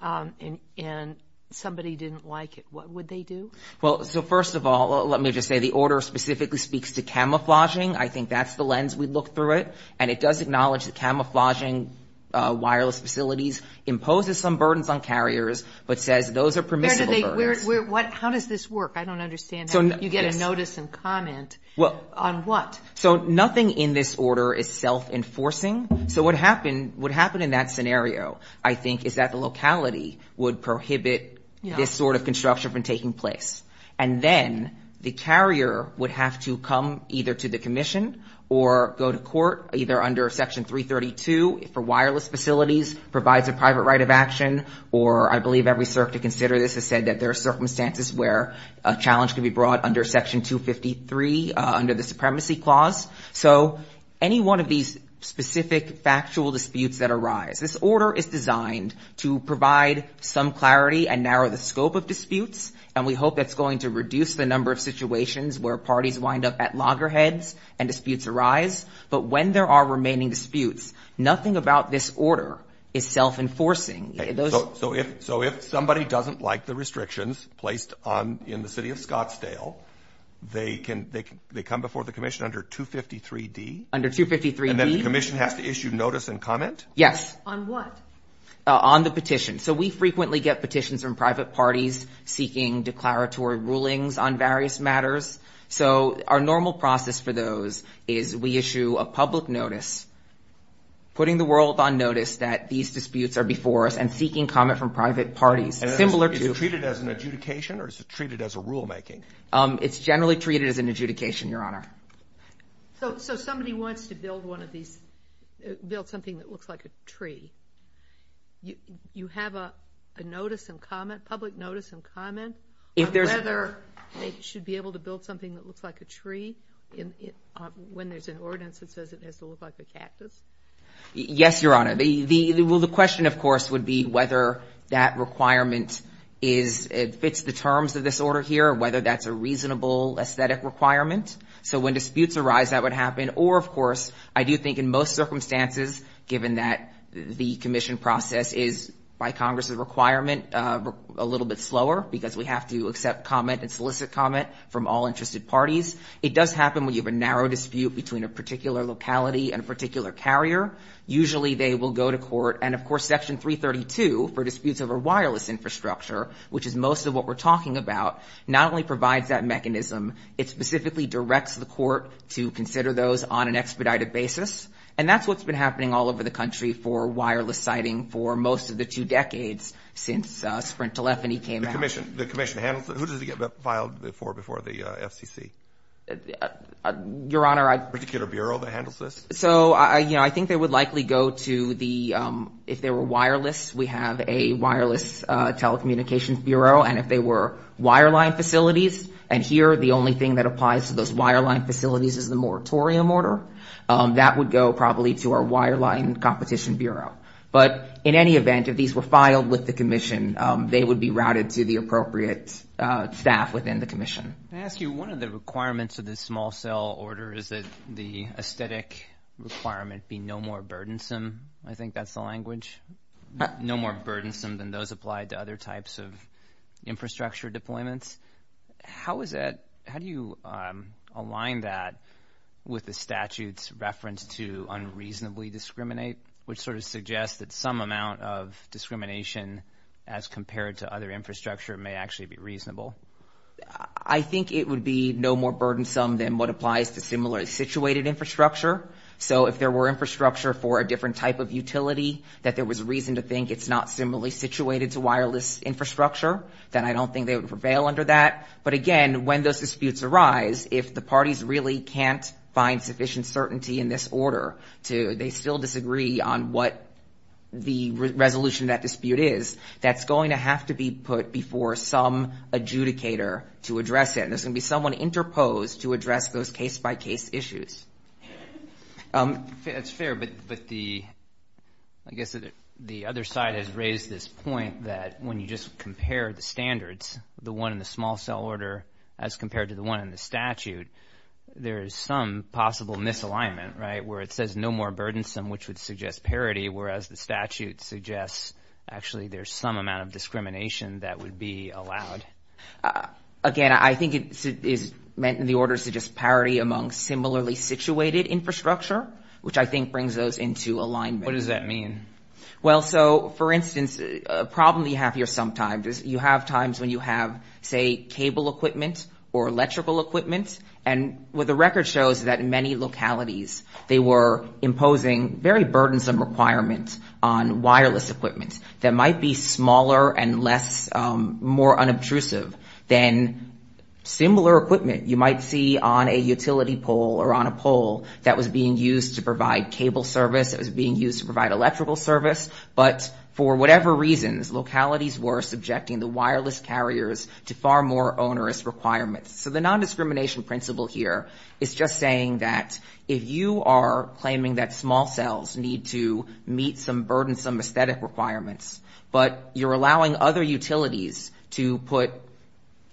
and somebody didn't like it, what would they do? Well, so first of all, let me just say the order specifically speaks to camouflaging. I think that's the lens we look through it, and it does acknowledge that camouflaging wireless facilities imposes some burdens on carriers, but says those are permissible. How does this work? I don't understand how you get a notice and comment. On what? So nothing in this order is self-enforcing. So what would happen in that scenario, I think, is that the locality would prohibit this sort of construction from taking place, and then the carrier would have to come either to the commission or go to court, either under Section 332 for wireless facilities provides a private right of action, or I believe every CERC to consider this has said that there are circumstances where a challenge can be brought under Section 253 under the Supremacy Clause. So any one of these specific factual disputes that arise, this order is designed to provide some clarity and narrow the scope of disputes, and we hope that's going to reduce the number of situations where parties wind up at loggerheads and disputes arise, but when there are remaining disputes, nothing about this order is self-enforcing. So if somebody doesn't like the restrictions placed in the city of Scottsdale, they come before the commission under 253D? Under 253D. And then the commission has to issue notice and comment? Yes. On what? On the petition. So we frequently get petitions from private parties seeking declaratory rulings on various matters. So our normal process for those is we issue a public notice, putting the world on notice that these disputes are before us and seeking comment from private parties. Is it treated as an adjudication or is it treated as a rulemaking? It's generally treated as an adjudication, Your Honor. So somebody wants to build something that looks like a tree. You have a public notice and comment on whether they should be able to build something that looks like a tree when there's an ordinance that says it has to look like a cactus? Yes, Your Honor. Well, the question, of course, would be whether that requirement fits the terms of this order here, whether that's a reasonable aesthetic requirement. So when disputes arise, that would happen. Or, of course, I do think in most circumstances, given that the commission process is, by Congress's requirement, a little bit slower because we have to accept comment and solicit comment from all interested parties. It does happen when you have a narrow dispute between a particular locality and a particular carrier. Usually they will go to court, and, of course, Section 332 for disputes over wireless infrastructure, which is most of what we're talking about, not only provides that mechanism, it specifically directs the court to consider those on an expedited basis. And that's what's been happening all over the country for wireless siting for most of the two decades since the sprint telephony came out. The commission handles it? Who does it get filed for before the FCC? Your Honor, I... A particular bureau that handles this? So, you know, I think they would likely go to the... If they were wireless, we have a wireless telecommunications bureau, and if they were wireline facilities, and here the only thing that applies to those wireline facilities is the moratorium order, that would go probably to our wireline competition bureau. But in any event, if these were filed with the commission, they would be routed to the appropriate staff within the commission. May I ask you, one of the requirements of this small-cell order is that the aesthetic requirement be no more burdensome. I think that's the language. No more burdensome than those applied to other types of infrastructure deployments. How is that... How do you align that with the statute's reference to unreasonably discriminate, which sort of suggests that some amount of discrimination as compared to other infrastructure may actually be reasonable? I think it would be no more burdensome than what applies to similarly situated infrastructure. So if there were infrastructure for a different type of utility, that there was reason to think it's not similarly situated to wireless infrastructure, then I don't think they would prevail under that. But again, when those disputes arise, if the parties really can't find sufficient certainty in this order, they still disagree on what the resolution of that dispute is, that's going to have to be put before some adjudicator to address it. And there's going to be someone interposed to address those case-by-case issues. That's fair, but the... I guess the other side has raised this point that when you just compare the standards, the one in the small-cell order as compared to the one in the statute, there is some possible misalignment, right, where it says no more burdensome, which would suggest parity, whereas the statute suggests actually there's some amount of discrimination that would be allowed. Again, I think it's meant in the order to just parry among similarly situated infrastructure, which I think brings us into alignment. What does that mean? Well, so, for instance, a problem you have here sometimes is you have times when you have, say, cable equipment or electrical equipment, and what the record shows is that in many localities they were imposing very burdensome requirements on wireless equipment that might be smaller and less, more unobtrusive than similar equipment you might see on a utility pole or on a pole that was being used to provide cable service, that was being used to provide electrical service, but for whatever reasons, localities were subjecting the wireless carriers to far more onerous requirements. So the nondiscrimination principle here is just saying that if you are claiming that small cells need to meet some burdensome aesthetic requirements, but you're allowing other utilities to put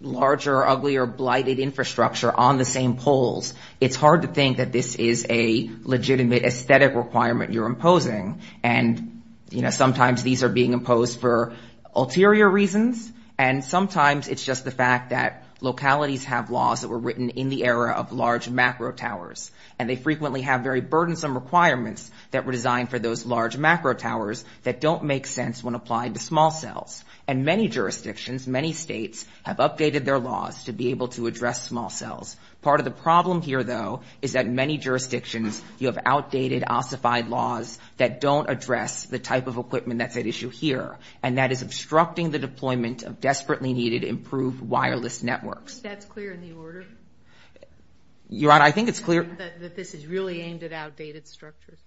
larger, uglier, blighted infrastructure on the same poles, it's hard to think that this is a legitimate aesthetic requirement you're imposing, and, you know, sometimes these are being imposed for ulterior reasons, and sometimes it's just the fact that localities have laws that were written in the era of large macro towers, and they frequently have very burdensome requirements that were designed for those large macro towers that don't make sense when applied to small cells, and many jurisdictions, many states, have updated their laws to be able to address small cells. Part of the problem here, though, is that in many jurisdictions you have outdated, ossified laws that don't address the type of equipment that's at issue here, and that is obstructing the deployment of desperately needed improved wireless networks. Is that clear in the order? Your Honor, I think it's clear. That this is really aimed at outdated structures.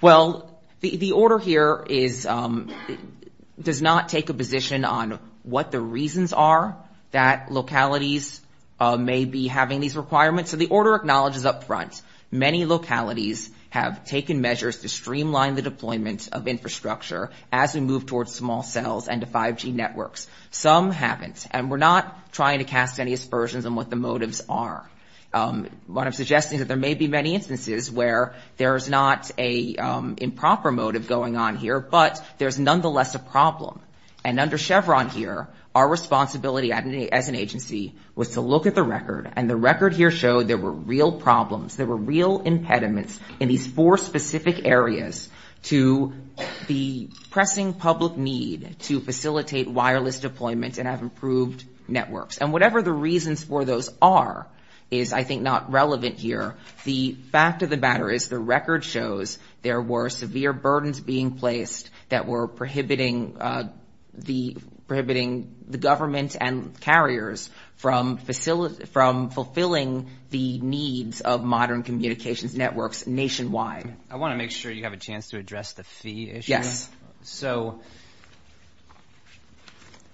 Well, the order here is, does not take a position on what the reasons are that localities may be having these requirements, so the order acknowledges up front, many localities have taken measures to streamline the deployment of infrastructure as we move towards small cells and to 5G networks. Some haven't, and we're not trying to cast any aspersions on what the motives are. What I'm suggesting is there may be many instances where there's not a improper motive going on here, but there's nonetheless a problem, and under Chevron here, our responsibility as an agency was to look at the record, and the record here showed there were real problems, there were real impediments in these four specific areas to the pressing public need to facilitate wireless deployment and have improved networks, and whatever the reasons for those are is, I think, not relevant here. The fact of the matter is the record shows there were severe burdens being placed that were prohibiting the government and carriers from fulfilling the needs of modern communications networks nationwide. I want to make sure you have a chance to address the fee issue. Yes.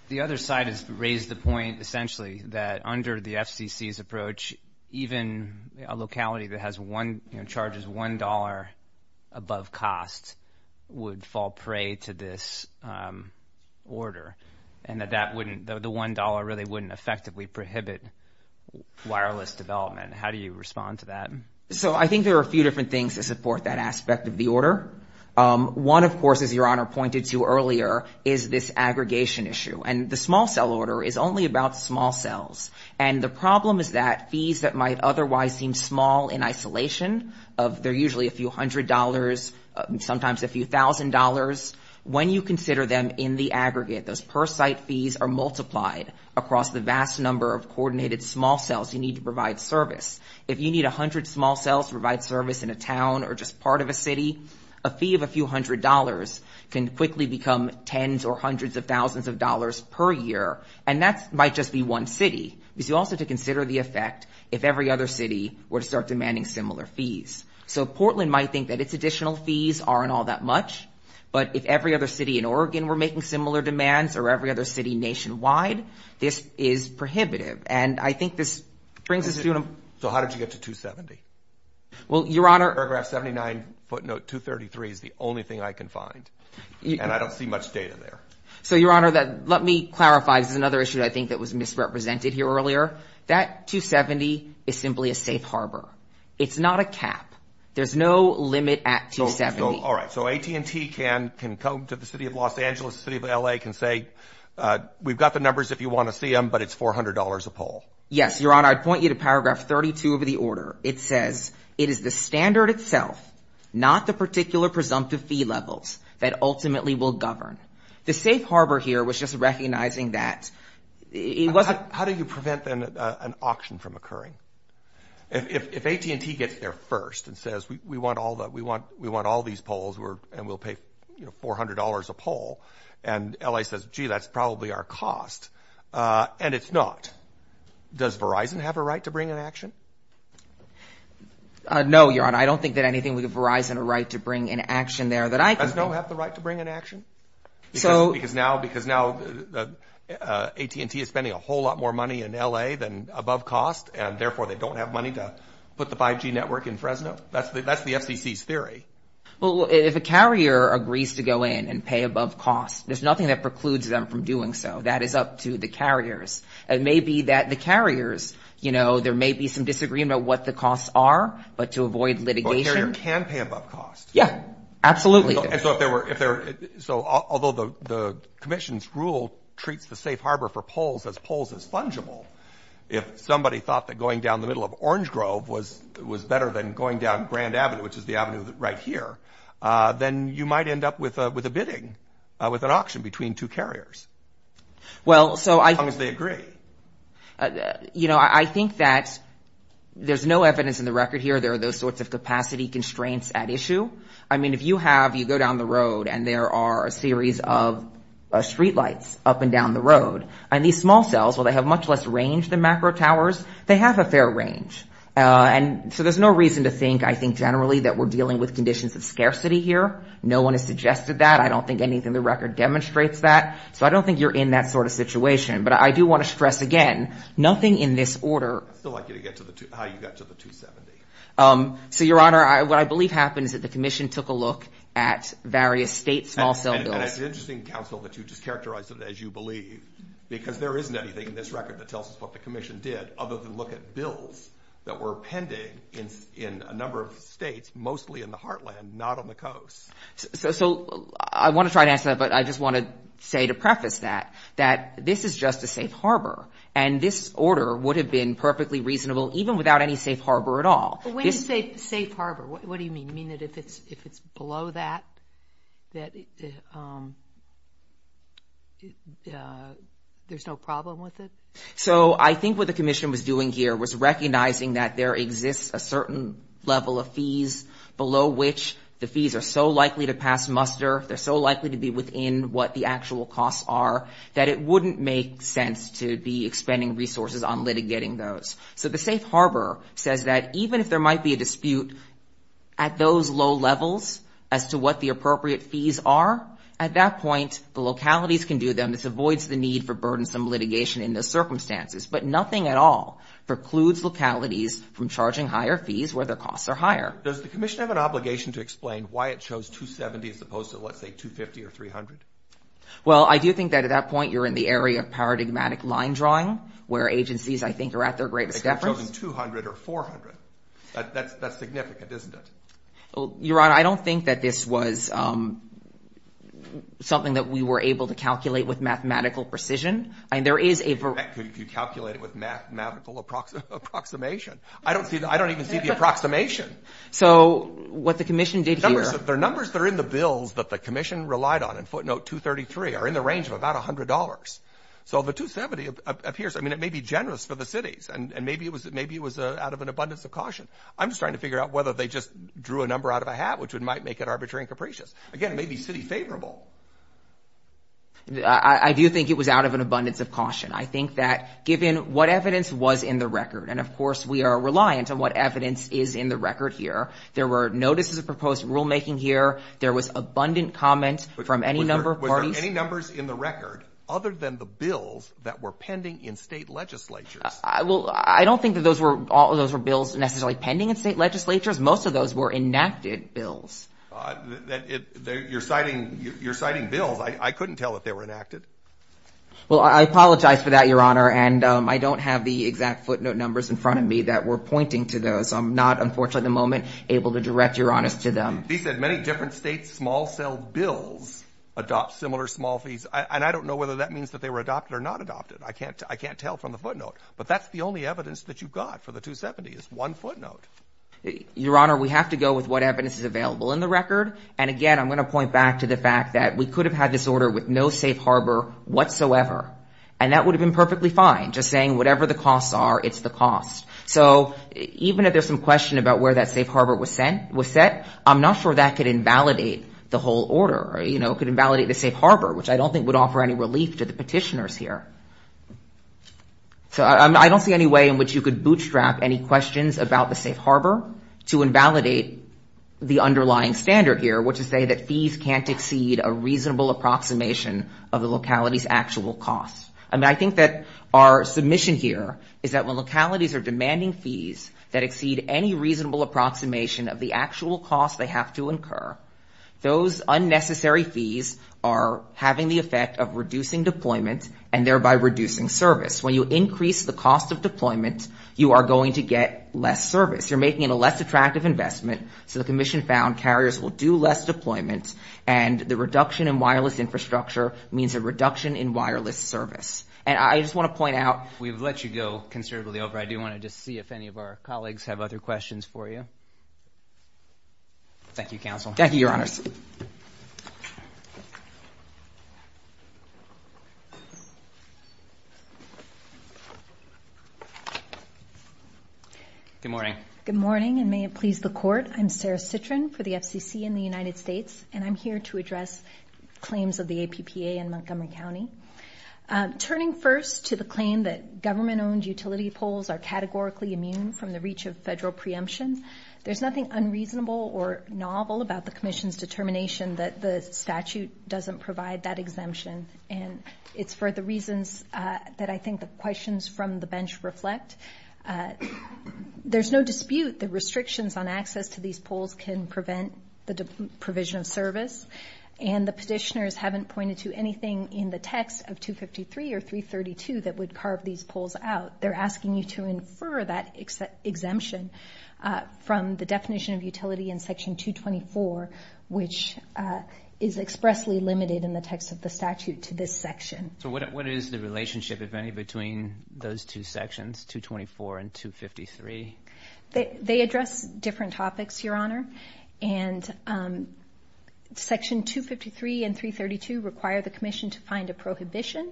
The other side has raised the point, essentially, that under the FCC's approach, even a locality that charges $1 above cost would fall prey to this order, and that the $1 really wouldn't effectively prohibit wireless development. How do you respond to that? I think there are a few different things to support that aspect of the order. One, of course, as Your Honor pointed to earlier, is this aggregation issue, and the small-cell order is only about small cells, and the problem is that fees that might otherwise seem small in isolation, they're usually a few hundred dollars, sometimes a few thousand dollars, when you consider them in the aggregate, those per-site fees are multiplied across the vast number of coordinated small cells you need to provide service. If you need 100 small cells to provide service in a town or just part of a city, a fee of a few hundred dollars can quickly become tens or hundreds of thousands of dollars per year, and that might just be one city. You also have to consider the effect if every other city were to start demanding similar fees. So Portland might think that its additional fees aren't all that much, but if every other city in Oregon were making similar demands, or every other city nationwide, this is prohibitive, and I think this brings us to... So how did you get to 270? Well, Your Honor... Paragraph 79, footnote 233 is the only thing I can find, and I don't see much data there. So, Your Honor, let me clarify. There's another issue I think that was misrepresented here earlier. That 270 is simply a safe harbor. It's not a cap. There's no limit at 270. All right, so AT&T can come to the city of Los Angeles, the city of L.A., can say, we've got the numbers if you want to see them, but it's $400 a poll. Yes, Your Honor. I'd point you to paragraph 32 of the order. It says, it is the standard itself, not the particular presumptive fee levels, that ultimately will govern. The safe harbor here was just recognizing that... How do you prevent an auction from occurring? If AT&T gets there first and says, we want all these polls, and we'll pay $400 a poll, and L.A. says, gee, that's probably our cost, and it's not, does Verizon have a right to bring an action? No, Your Honor. I don't think that anything would give Verizon a right to bring an action there. Does NO have the right to bring an action? Because now AT&T is spending a whole lot more money in L.A. than above cost, and therefore they don't have money to put the 5G network in Fresno? That's the FCC's theory. Well, if a carrier agrees to go in and pay above cost, there's nothing that precludes them from doing so. That is up to the carriers. It may be that the carriers, there may be some disagreement on what the costs are, but to avoid litigation... But carriers can pay above cost. Yeah, absolutely. So although the commission's rule treats the safe harbor for polls as polls is fungible, if somebody thought that going down the middle of Orange Grove was better than going down Grand Avenue, which is the avenue right here, then you might end up with a bidding, with an auction between two carriers. Well, so I... As long as they agree. You know, I think that there's no evidence in the record here there are those sorts of capacity constraints at issue. I mean, if you have, you go down the road and there are a series of streetlights up and down the road, and these small cells, while they have much less range than macro towers, they have a fair range. And so there's no reason to think, I think, generally, that we're dealing with conditions of scarcity here. No one has suggested that. I don't think anything in the record demonstrates that. So I don't think you're in that sort of situation. But I do want to stress again, nothing in this order... I'd like you to get to how you got to the 270. So, Your Honor, what I believe happened is that the commission took a look at various state small cell bills. And it's interesting, counsel, that you just characterized it as you believe, because there isn't anything in this record that tells us what the commission did, other than look at bills that were appended in a number of states, mostly in the heartland, not on the coast. So I want to try to answer that, but I just want to say to preface that, that this is just a safe harbor. And this order would have been perfectly reasonable, even without any safe harbor at all. What do you mean safe harbor? What do you mean? You mean that if it's below that, there's no problem with it? was recognizing that there exists a certain level of fees below which the fees are so likely to pass muster, they're so likely to be within what the actual costs are, that it wouldn't make sense to be expending resources on litigating those. So the safe harbor says that even if there might be a dispute at those low levels as to what the appropriate fees are, at that point, the localities can do them. This avoids the need for burdensome litigation in those circumstances. But nothing at all precludes localities from charging higher fees where the costs are higher. Does the commission have an obligation to explain why it chose 270 as opposed to, let's say, 250 or 300? Well, I do think that at that point, you're in the area of paradigmatic line drawing, where agencies, I think, are at their greatest effort. They've chosen 200 or 400. That's significant, isn't it? Your Honor, I don't think that this was something that we were able to calculate with mathematical precision. I mean, if you calculate it with mathematical approximation. I don't even see the approximation. So what the commission did here... The numbers that are in the bills that the commission relied on in footnote 233 are in the range of about $100. So the 270 appears... I mean, it may be generous for the cities, and maybe it was out of an abundance of caution. I'm just trying to figure out whether they just drew a number out of a hat, which might make it arbitrary and capricious. Again, it may be city-favorable. I do think it was out of an abundance of caution. I think that given what evidence was in the record, and of course we are reliant on what evidence is in the record here. There were notices of proposed rulemaking here. There was abundant comment from any number of parties. Were there any numbers in the record other than the bills that were pending in state legislatures? I don't think that all of those were bills necessarily pending in state legislatures. Most of those were enacted bills. You're citing bills. I couldn't tell that they were enacted. Well, I apologize for that, Your Honor, and I don't have the exact footnote numbers in front of me that were pointing to those. I'm not, unfortunately at the moment, able to direct Your Honor to them. He said many different states' small-cell bills adopt similar small fees, and I don't know whether that means that they were adopted or not adopted. I can't tell from the footnote, but that's the only evidence that you've got for the 270 is one footnote. Your Honor, we have to go with what evidence is available in the record, and again, I'm going to point back to the fact that we could have had this order with no safe harbor whatsoever, and that would have been perfectly fine, just saying whatever the costs are, it's the cost. So even if there's some question about where that safe harbor was set, I'm not sure that could invalidate the whole order. It could invalidate the safe harbor, which I don't think would offer any relief to the petitioners here. So I don't see any way in which you could bootstrap any questions about the safe harbor to invalidate the underlying standard here, which would say that fees can't exceed a reasonable approximation of the locality's actual costs. I think that our submission here is that when localities are demanding fees that exceed any reasonable approximation of the actual cost they have to incur, those unnecessary fees are having the effect of reducing deployment and thereby reducing service. When you increase the cost of deployment, you are going to get less service. You're making it a less attractive investment, so the commission found carriers will do less deployment, and the reduction in wireless infrastructure means a reduction in wireless service. And I just want to point out... We've let you go conservatively over. I do want to just see if any of our colleagues have other questions for you. Thank you, counsel. Thank you, Your Honor. Good morning. Good morning, and may it please the Court. I'm Sarah Citrin for the FCC in the United States, and I'm here to address claims of the APPA in Montgomery County. Turning first to the claim that government-owned utility poles are categorically immune from the reach of federal preemption, there's nothing unreasonable or novel about the commission's determination that the statute doesn't provide that exemption, and it's for the reasons that I think the questions from the bench reflect. There's no dispute that restrictions on access to these poles can prevent the provision of service, and the petitioners haven't pointed to anything in the text of 253 or 332 that would carve these poles out. They're asking you to infer that exemption from the definition of utility in Section 224, which is expressly limited in the text of the statute to this section. So what is the relationship, if any, between those two sections, 224 and 253? They address different topics, Your Honor, and Section 253 and 332 require the commission to find a prohibition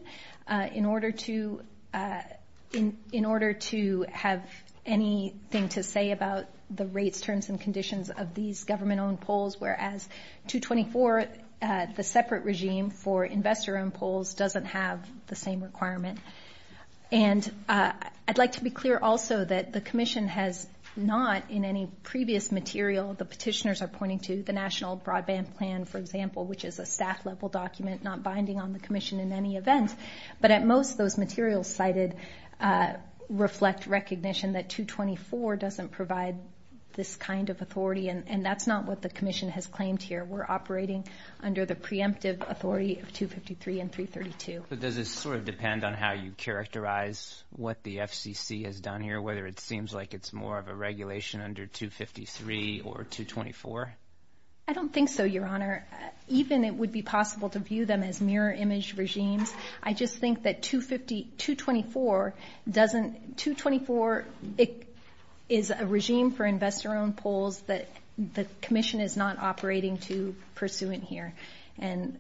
in order to have anything to say about the rates, terms, and conditions of these government-owned poles, whereas 224, the separate regime for investor-owned poles, doesn't have the same requirements. And I'd like to be clear also that the commission has not, in any previous material, the petitioners are pointing to the National Broadband Plan, for example, which is a staff-level document not binding on the commission in any event, but most of those materials cited reflect recognition that 224 doesn't provide this kind of authority, and that's not what the commission has claimed here. We're operating under the preemptive authority of 253 and 332. So does this sort of depend on how you characterize what the FCC has done here, whether it seems like it's more of a regulation under 253 or 224? I don't think so, Your Honor. Even it would be possible to view them as mirror-image regimes. I just think that 224 doesn't... 224 is a regime for investor-owned poles that the commission is not operating to pursue in here, and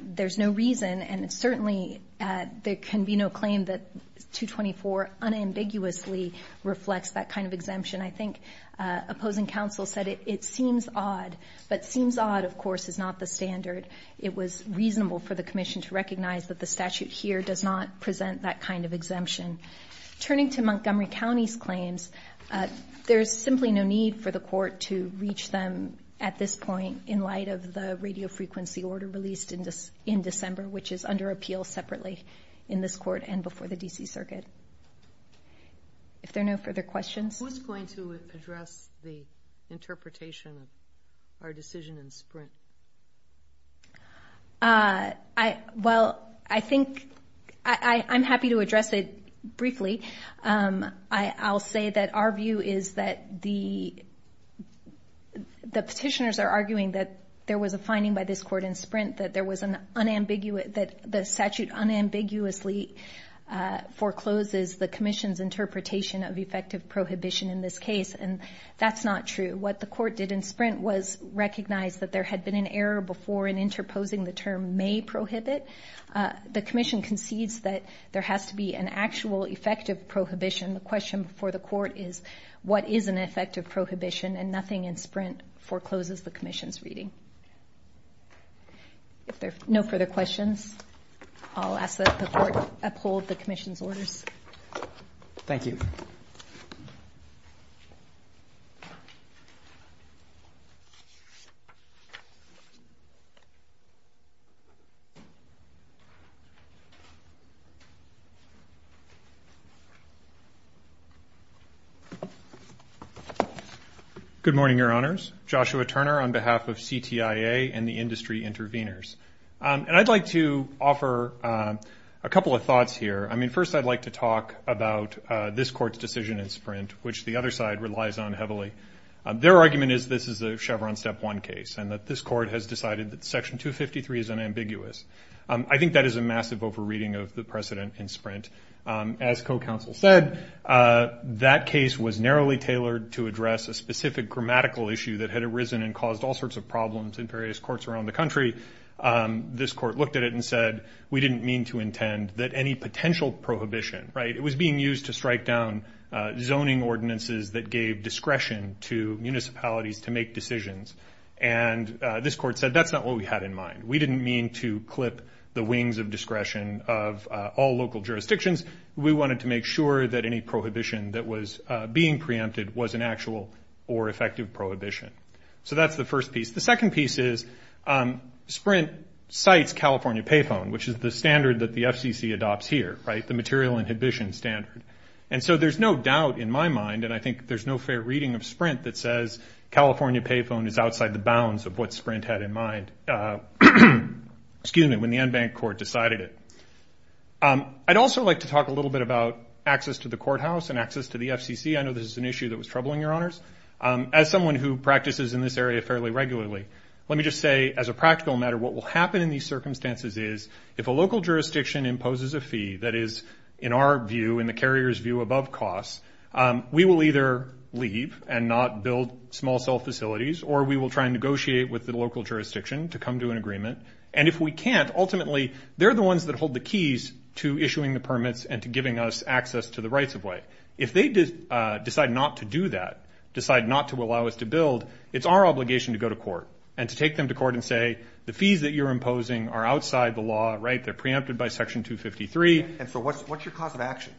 there's no reason, and certainly there can be no claim that 224 unambiguously reflects that kind of exemption. I think opposing counsel said it seems odd, but seems odd, of course, is not the standard. It was reasonable for the commission to recognize that the statute here does not present that kind of exemption. Turning to Montgomery County's claims, there's simply no need for the court to reach them at this point in light of the radiofrequency order released in December, which is under appeal separately in this court and before the D.C. Circuit. Is there no further questions? Who's going to address the interpretation of our decision in Sprint? Well, I think... I'm happy to address it briefly. I'll say that our view is that the... the petitioners are arguing that there was a finding by this court in Sprint that there was an unambiguous... forecloses the commission's interpretation of effective prohibition in this case, and that's not true. What the court did in Sprint was recognize that there had been an error before in interposing the term may prohibit. The commission concedes that there has to be an actual effective prohibition. The question for the court is, what is an effective prohibition? And nothing in Sprint forecloses the commission's reading. If there's no further questions, I'll ask that the court uphold the commission's order. Thank you. Good morning, Your Honors. Joshua Turner on behalf of CTIA and the industry intervenors. And I'd like to offer a couple of thoughts here. I mean, first I'd like to talk about this court's decision in Sprint, which the other side relies on heavily. Their argument is this is the Chevron Step 1 case and that this court has decided that Section 253 is unambiguous. I think that is a massive overreading of the precedent in Sprint. As co-counsel said, that case was narrowly tailored to address a specific grammatical issue that had arisen and caused all sorts of problems in various courts around the country. This court looked at it and said, we didn't mean to intend that any potential prohibition, right? It was being used to strike down zoning ordinances that gave discretion to municipalities to make decisions. And this court said, that's not what we had in mind. We didn't mean to clip the wings of discretion of all local jurisdictions. We wanted to make sure that any prohibition that was being preempted was an actual or effective prohibition. So that's the first piece. The second piece is Sprint cites California Payphone, which is the standard that the FCC adopts here, right? The material inhibition standard. And so there's no doubt in my mind, and I think there's no fair reading of Sprint that says California Payphone is outside the bounds of what Sprint had in mind, excuse me, when the en banc court decided it. I'd also like to talk a little bit about access to the courthouse and access to the FCC. I know this is an issue that was troubling your honors. As someone who practices in this area fairly regularly, let me just say as a practical matter, what will happen in these circumstances is if a local jurisdiction imposes a fee that is in our view, in the carrier's view, above cost, we will either leave and not build small cell facilities, or we will try and negotiate with the local jurisdiction to come to an agreement. And if we can't, ultimately, they're the ones that hold the keys to issuing the permits and to giving us access to the rights of way. If they decide not to do that, decide not to allow us to build, it's our obligation to go to court and to take them to court and say, the fees that you're imposing are outside the law, right? They're preempted by Section 253. And so what's your cause of action?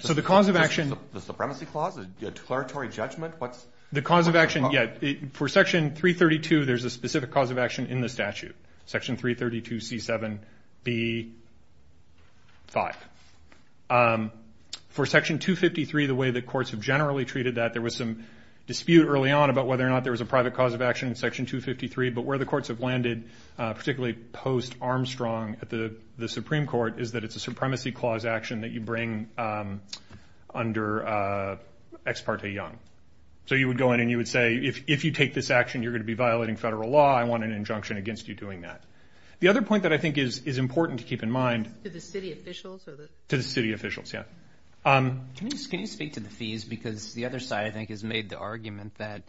So the cause of action... The supremacy clause, the declaratory judgment? The cause of action, yeah, for Section 332, there's a specific cause of action in the statute, Section 332C7B5. For Section 253, the way that courts have generally treated that, there was some dispute early on about whether or not there was a private cause of action in Section 253, but where the courts have landed, particularly post-Armstrong at the Supreme Court, is that it's a supremacy clause action that you bring under Ex parte Young. So you would go in and you would say, if you take this action, you're going to be violating federal law, I want an injunction against you doing that. The other point that I think is important to keep in mind... To the city officials? To the city officials, yeah. Can you speak to the fees? Because the other side, I think, has made the argument that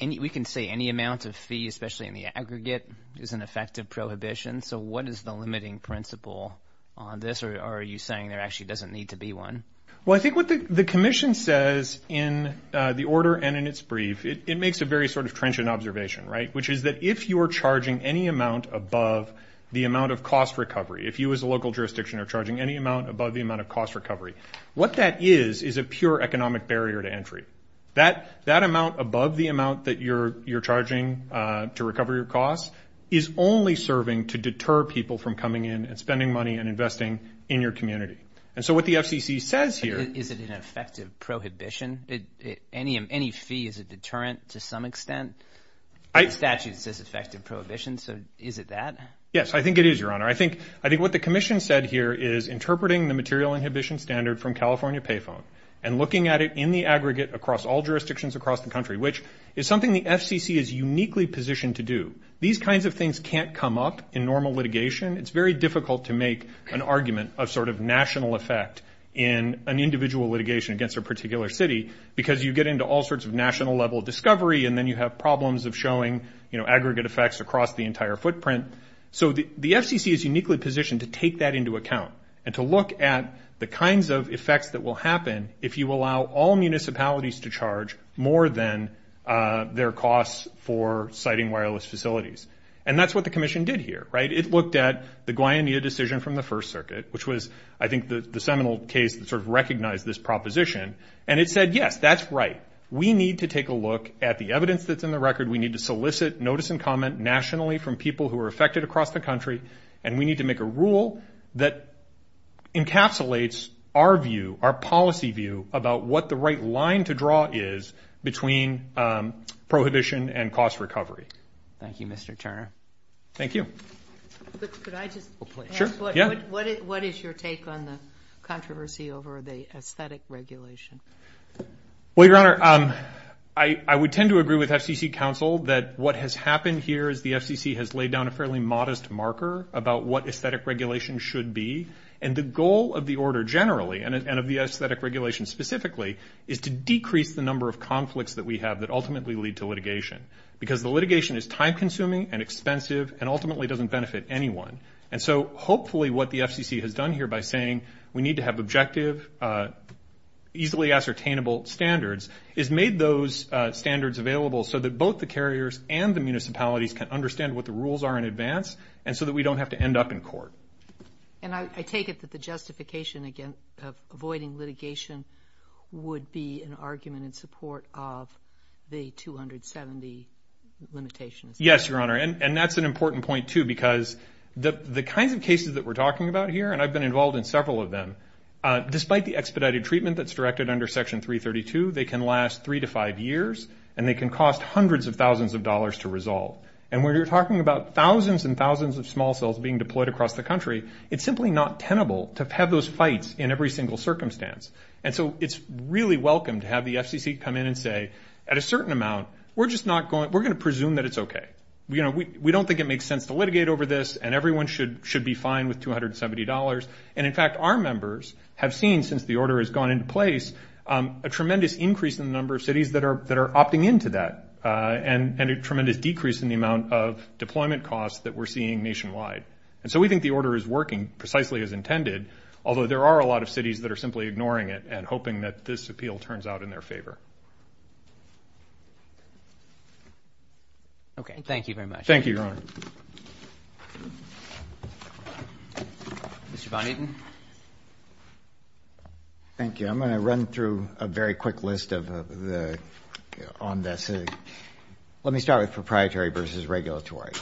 we can say any amount of fee, especially in the aggregate, is an effective prohibition. So what is the limiting principle on this? Or are you saying there actually doesn't need to be one? Well, I think what the Commission says in the order and in its brief, it makes a very sort of trenchant observation, right? Which is that if you are charging any amount above the amount of cost recovery, if you as a local jurisdiction are charging any amount above the amount of cost recovery, what that is is a pure economic barrier to entry. That amount above the amount that you're charging to recover your cost is only serving to deter people from coming in and spending money and investing in your community. And so what the FCC says here... Is it an effective prohibition? Any fee is a deterrent to some extent? The statute says effective prohibition, so is it that? Yes, I think it is, Your Honor. I think what the Commission said here is interpreting the material inhibition standard from California Payphone and looking at it in the aggregate across all jurisdictions across the country, which is something the FCC is uniquely positioned to do. These kinds of things can't come up in normal litigation. It's very difficult to make an argument of sort of national effect in an individual litigation against a particular city because you get into all sorts of national-level discovery and then you have problems of showing, you know, aggregate effects across the entire footprint. So the FCC is uniquely positioned to take that into account and to look at the kinds of effects that will happen if you allow all municipalities to charge more than their costs for siting wireless facilities. And that's what the Commission did here, right? It looked at the Guayanilla decision from the First Circuit, which was, I think, the seminal case that sort of recognized this proposition, and it said, yes, that's right. We need to take a look at the evidence that's in the record. We need to solicit notice and comment nationally from people who are affected across the country, and we need to make a rule that encapsulates our view, our policy view about what the right line to draw is between prohibition and cost recovery. Thank you, Mr. Turner. Thank you. Could I just ask what is your take on the controversy over the aesthetic regulation? Well, Your Honor, I would tend to agree with FCC counsel that what has happened here is the FCC has laid down a fairly modest marker about what aesthetic regulation should be, and the goal of the order generally and of the aesthetic regulation specifically is to decrease the number of conflicts that we have that ultimately lead to litigation, because the litigation is time-consuming and expensive and ultimately doesn't benefit anyone. And so hopefully what the FCC has done here by saying we need to have objective, easily ascertainable standards is made those standards available so that both the carriers and the municipalities can understand what the rules are in advance and so that we don't have to end up in court. And I take it that the justification of avoiding litigation would be an argument in support of the 270 limitations. Yes, Your Honor, and that's an important point, too, because the kinds of cases that we're talking about here, and I've been involved in several of them, despite the expedited treatment that's directed under Section 332, they can last three to five years and they can cost hundreds of thousands of dollars to resolve. And when you're talking about thousands and thousands of small cells being deployed across the country, it's simply not tenable to have those fights in every single circumstance. And so it's really welcome to have the FCC come in and say at a certain amount, we're going to presume that it's okay. We don't think it makes sense to litigate over this and everyone should be fine with $270. And in fact, our members have seen, since the order has gone into place, a tremendous increase in the number of cities that are opting into that, and a tremendous decrease in the amount of deployment costs that we're seeing nationwide. And so we think the order is working precisely as intended, although there are a lot of cities that are simply ignoring it and hoping that this appeal turns out in their favor. Okay, thank you very much. Thank you, Your Honor. Mr. Van Eten. Thank you. I'm going to run through a very quick list on this. Let me start with proprietary versus regulatory.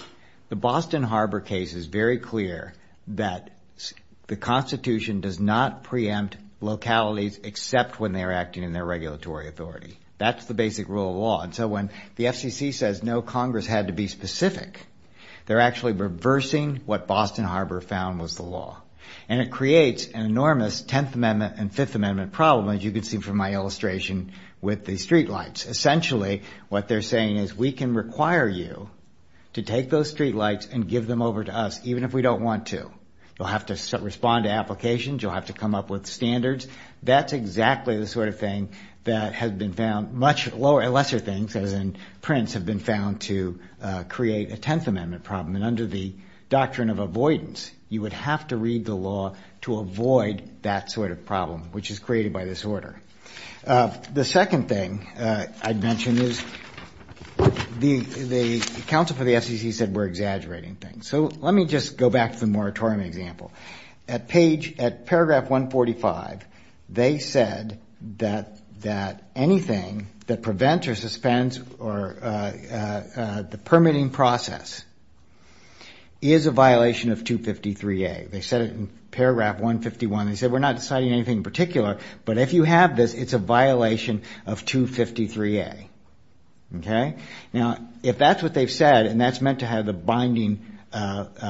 The Boston Harbor case is very clear that the Constitution does not preempt localities except when they are acting in their regulatory authority. That's the basic rule of law. And so when the FCC says no, Congress had to be specific, they're actually reversing what Boston Harbor found was the law. And it creates an enormous Tenth Amendment and Fifth Amendment problem, as you can see from my illustration, with the streetlights. Essentially, what they're saying is, we can require you to take those streetlights and give them over to us, even if we don't want to. You'll have to respond to applications, you'll have to come up with standards. That's exactly the sort of thing that has been found, much lesser things than prints have been found to create a Tenth Amendment problem. And under the doctrine of avoidance, you would have to read the law to avoid that sort of problem, which is created by this order. The second thing I'd mention is, the counsel for the FCC said we're exaggerating things. So let me just go back to the moratorium example. At paragraph 145, they said that anything that prevents or suspends the permitting process is a violation of 253A. They said it in paragraph 151. They said we're not deciding anything in particular, but if you have this, it's a violation of 253A. Now, if that's what they've said, and that's meant to have the binding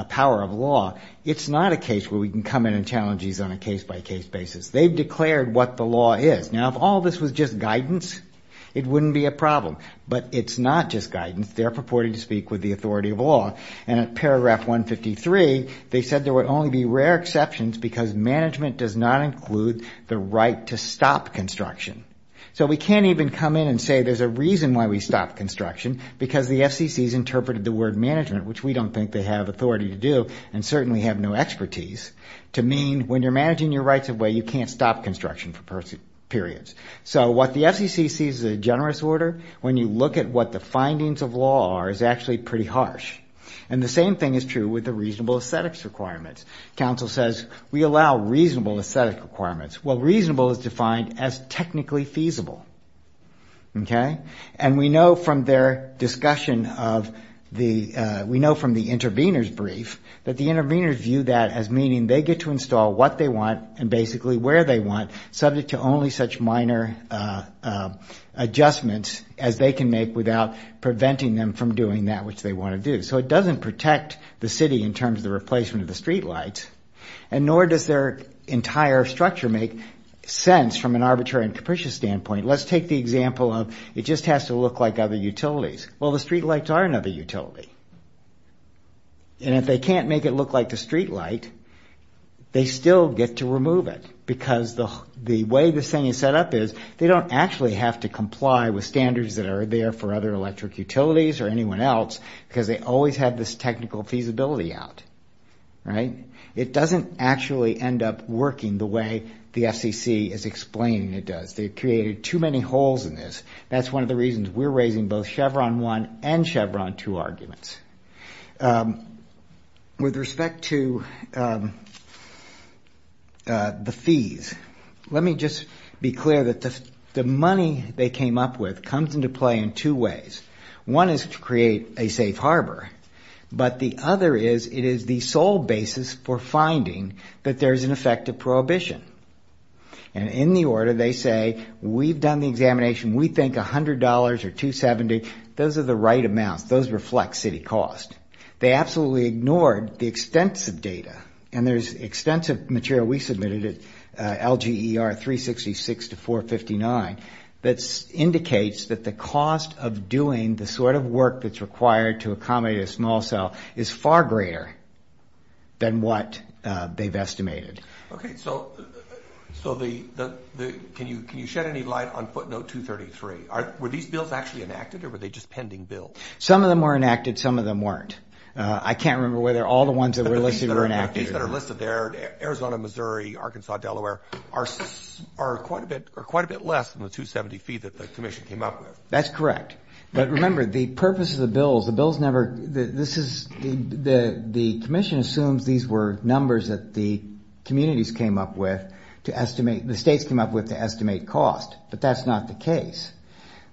power of law, it's not a case where we can come in and challenge you on a case-by-case basis. They declared what the law is. Now, if all this was just guidance, it wouldn't be a problem. But it's not just guidance. They're purported to speak with the authority of law. And at paragraph 153, they said there would only be rare exceptions because management does not include the right to stop construction. So we can't even come in and say there's a reason why we stop construction because the FCC's interpreted the word management, which we don't think they have authority to do and certainly have no expertise, to mean when you're managing your rights of way, you can't stop construction for periods. So what the FCC sees is a generous order. When you look at what the findings of law are, it's actually pretty harsh. And the same thing is true with the reasonable aesthetics requirements. Council says we allow reasonable aesthetics requirements. Well, reasonable is defined as technically feasible. Okay? And we know from their discussion of the... we know from the intervener's brief that the intervener viewed that as meaning they get to install what they want and basically where they want, subject to only such minor adjustments as they can make without preventing them from doing that which they want to do. So it doesn't protect the city in terms of the replacement of the streetlights, and nor does their entire structure make sense from an arbitrary and capricious standpoint. Let's take the example of it just has to look like other utilities. Well, the streetlights are another utility. And if they can't make it look like a streetlight, they still get to remove it because the way this thing is set up is they don't actually have to comply with standards that are there for other electric utilities or anyone else because they always have this technical feasibility out. All right? It doesn't actually end up working the way the FCC is explaining it does. They've created too many holes in this. That's one of the reasons we're raising both Chevron 1 and Chevron 2 arguments. With respect to the fees, let me just be clear that the money they came up with comes into play in two ways. One is to create a safe harbor, but the other is it is the sole basis for finding that there's an effect of prohibition. And in the order, they say, we've done the examination. We think $100 or $270, those are the right amount. Those reflect city cost. They absolutely ignored the extensive data, and there's extensive material we submitted at LGER 366 to 459 that indicates that the cost of doing the sort of work that's required to accommodate a small cell is far greater than what they've estimated. Okay, so can you shed any light on footnote 233? Were these bills actually enacted, or were they just pending bills? Some of them were enacted, some of them weren't. I can't remember whether all the ones that were listed were enacted or not. The fees that are listed there, Arizona, Missouri, Arkansas, Delaware, are quite a bit less than the $270 fee that the submission came up with. That's correct. But remember, the purpose of the bill, the bill's never, this is, the commission assumes these were numbers that the communities came up with to estimate, the states came up with to estimate cost, but that's not the case.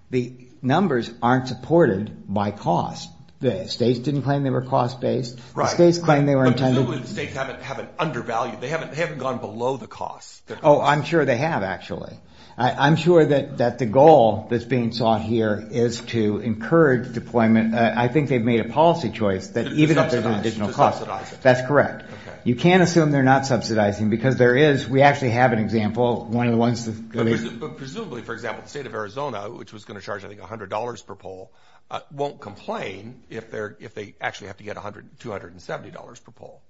The numbers aren't supported by cost. The states didn't claim they were cost-based. Right. The states claimed they were intended. But the states haven't undervalued, they haven't gone below the cost. Oh, I'm sure they have, actually. I'm sure that the goal that's being sought here is to encourage deployment. I think they've made a policy choice that even if there's an additional cost, that's correct. You can't assume they're not subsidizing, because there is, we actually have an example, one of the ones that... Presumably, for example, the state of Arizona, which was going to charge, I think, $100 per poll, won't complain if they actually have to get $270 per poll.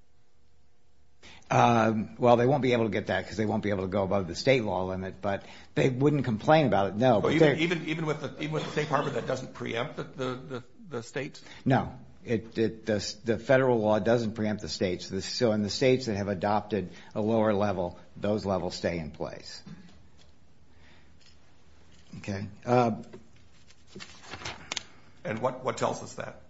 Well, they won't be able to get that, because they won't be able to go above the state law limit, but they wouldn't complain about it, no. Even with the State Department, that doesn't preempt the states? No. The federal law doesn't preempt the states. So in the states that have adopted a lower level, those levels stay in place. Okay. And what tells us that?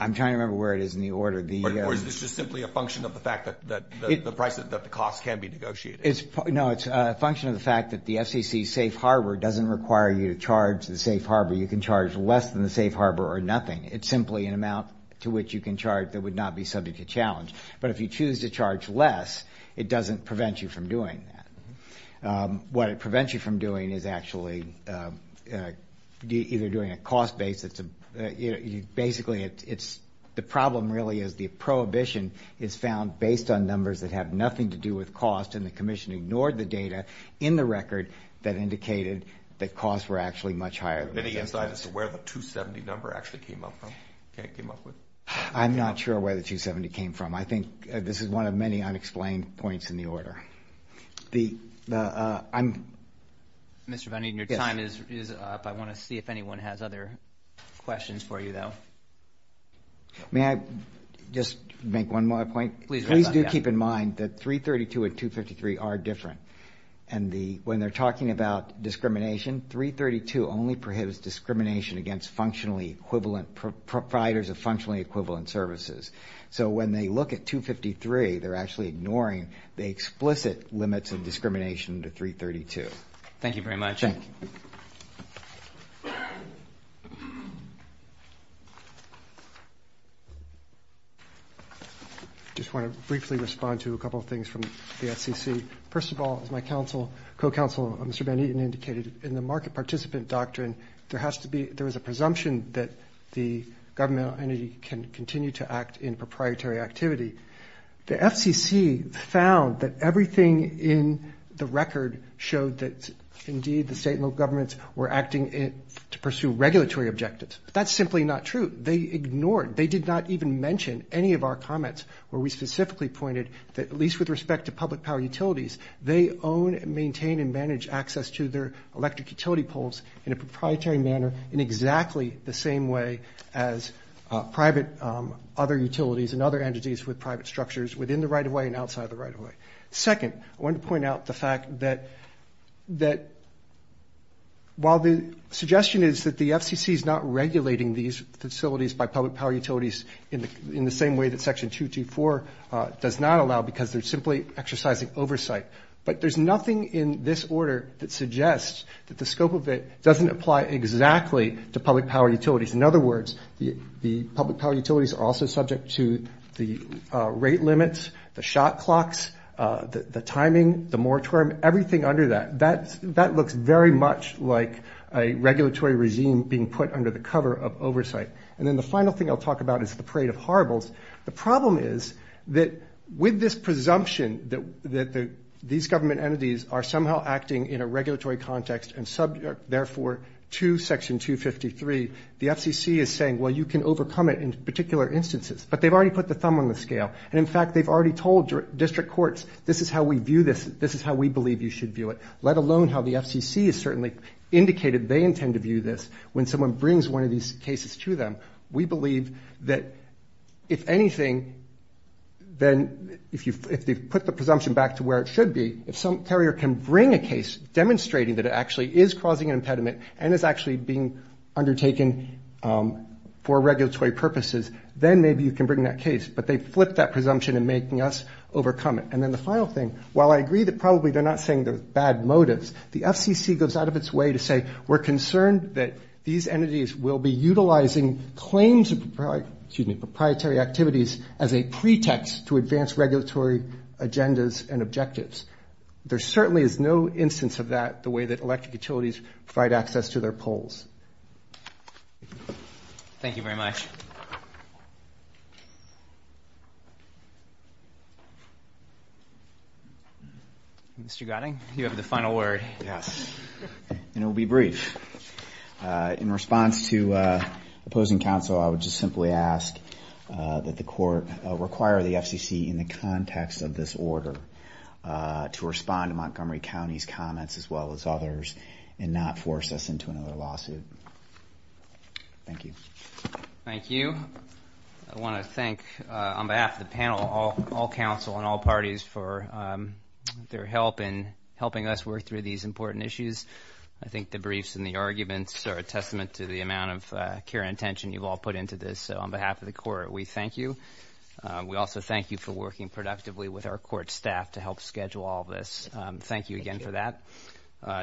I'm trying to remember where it is in the order. Or is this just simply a function of the fact that the cost can be negotiated? No, it's a function of the fact that the FCC safe harbor doesn't require you to charge the safe harbor. You can charge less than the safe harbor or nothing. It's simply an amount to which you can charge that would not be subject to challenge. But if you choose to charge less, it doesn't prevent you from doing that. What it prevents you from doing is actually either doing a cost-based... Basically, the problem really is the prohibition is found based on numbers that have nothing to do with cost, and the commission ignored the data in the record that indicated that costs were actually much higher. Can you tell us where the $270 number actually came up with? I'm not sure where the $270 came from. I think this is one of many unexplained points in the order. I'm... Mr. Bunning, your time is up. I want to see if anyone has other questions for you, though. May I just make one more point? Please do keep in mind that 332 and 253 are different. And when they're talking about discrimination, 332 only prohibits discrimination against functionally equivalent... providers of functionally equivalent services. So when they look at 253, they're actually ignoring the explicit limits of discrimination to 332. Thank you very much. I just want to briefly respond to a couple of things from the FCC. First of all, as my co-counsel, Mr. Van Eaton, indicated in the market participant doctrine, there has to be... there's a presumption that the government entity can continue to act in proprietary activity. The FCC found that everything in the record showed that, indeed, the state and local governments were acting to pursue regulatory objectives. That's simply not true. They ignored... They did not even mention any of our comments where we specifically pointed that, at least with respect to public power utilities, they own and maintain and manage access to their electric utility poles in a proprietary manner in exactly the same way as private other utilities and other entities with private structures within the right-of-way and outside the right-of-way. Second, I want to point out the fact that... that while the suggestion is that the FCC is not regulating these facilities by public power utilities in the same way that Section 224 does not allow because they're simply exercising oversight, but there's nothing in this order that suggests that the scope of it doesn't apply exactly to public power utilities. In other words, the public power utilities are also subject to the rate limits, the shot clocks, the timing, the moratorium, everything under that. That looks very much like a regulatory regime being put under the cover of oversight. And then the final thing I'll talk about is the parade of horribles. The problem is that with this presumption that these government entities are somehow acting in a regulatory context and subject, therefore, to Section 253, the FCC is saying, well, you can overcome it in particular instances. But they've already put the thumb on the scale. In fact, they've already told district courts, this is how we view this. This is how we believe you should view it. Let alone how the FCC has certainly indicated they intend to view this when someone brings one of these cases to them. We believe that if anything, then if you put the presumption back to where it should be, if some carrier can bring a case demonstrating that it actually is causing an impediment and is actually being undertaken for regulatory purposes, then maybe you can bring that case. But they flip that presumption and making us overcome it. And then the final thing, while I agree that probably they're not saying there's bad motives, the FCC goes out of its way to say, we're concerned that these entities will be utilizing claims of proprietary activities as a pretext to advance regulatory agendas and objectives. There certainly is no instance of that the way that electric utilities provide access to their poles. Thank you very much. Mr. Gotting, you have the final word. Yes. And it will be brief. In response to opposing counsel, I would just simply ask that the court require the FCC in the context of this order to respond to Montgomery County's comments as well as others and not force us into another lawsuit. Thank you. Thank you. I want to thank, on behalf of the panel, all counsel and all parties for their help in helping us work through these important issues. I think the briefs and the arguments are a testament to the amount of care and attention you've all put into this. So on behalf of the court, we thank you. We also thank you for working productively with our court staff to help schedule all this. Thank you again for that.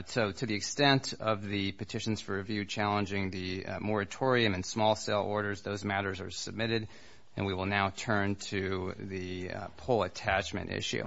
So to the extent of the petitions for review challenging the moratorium and small sale orders, those matters are submitted, and we will now turn to the poll attachment issue.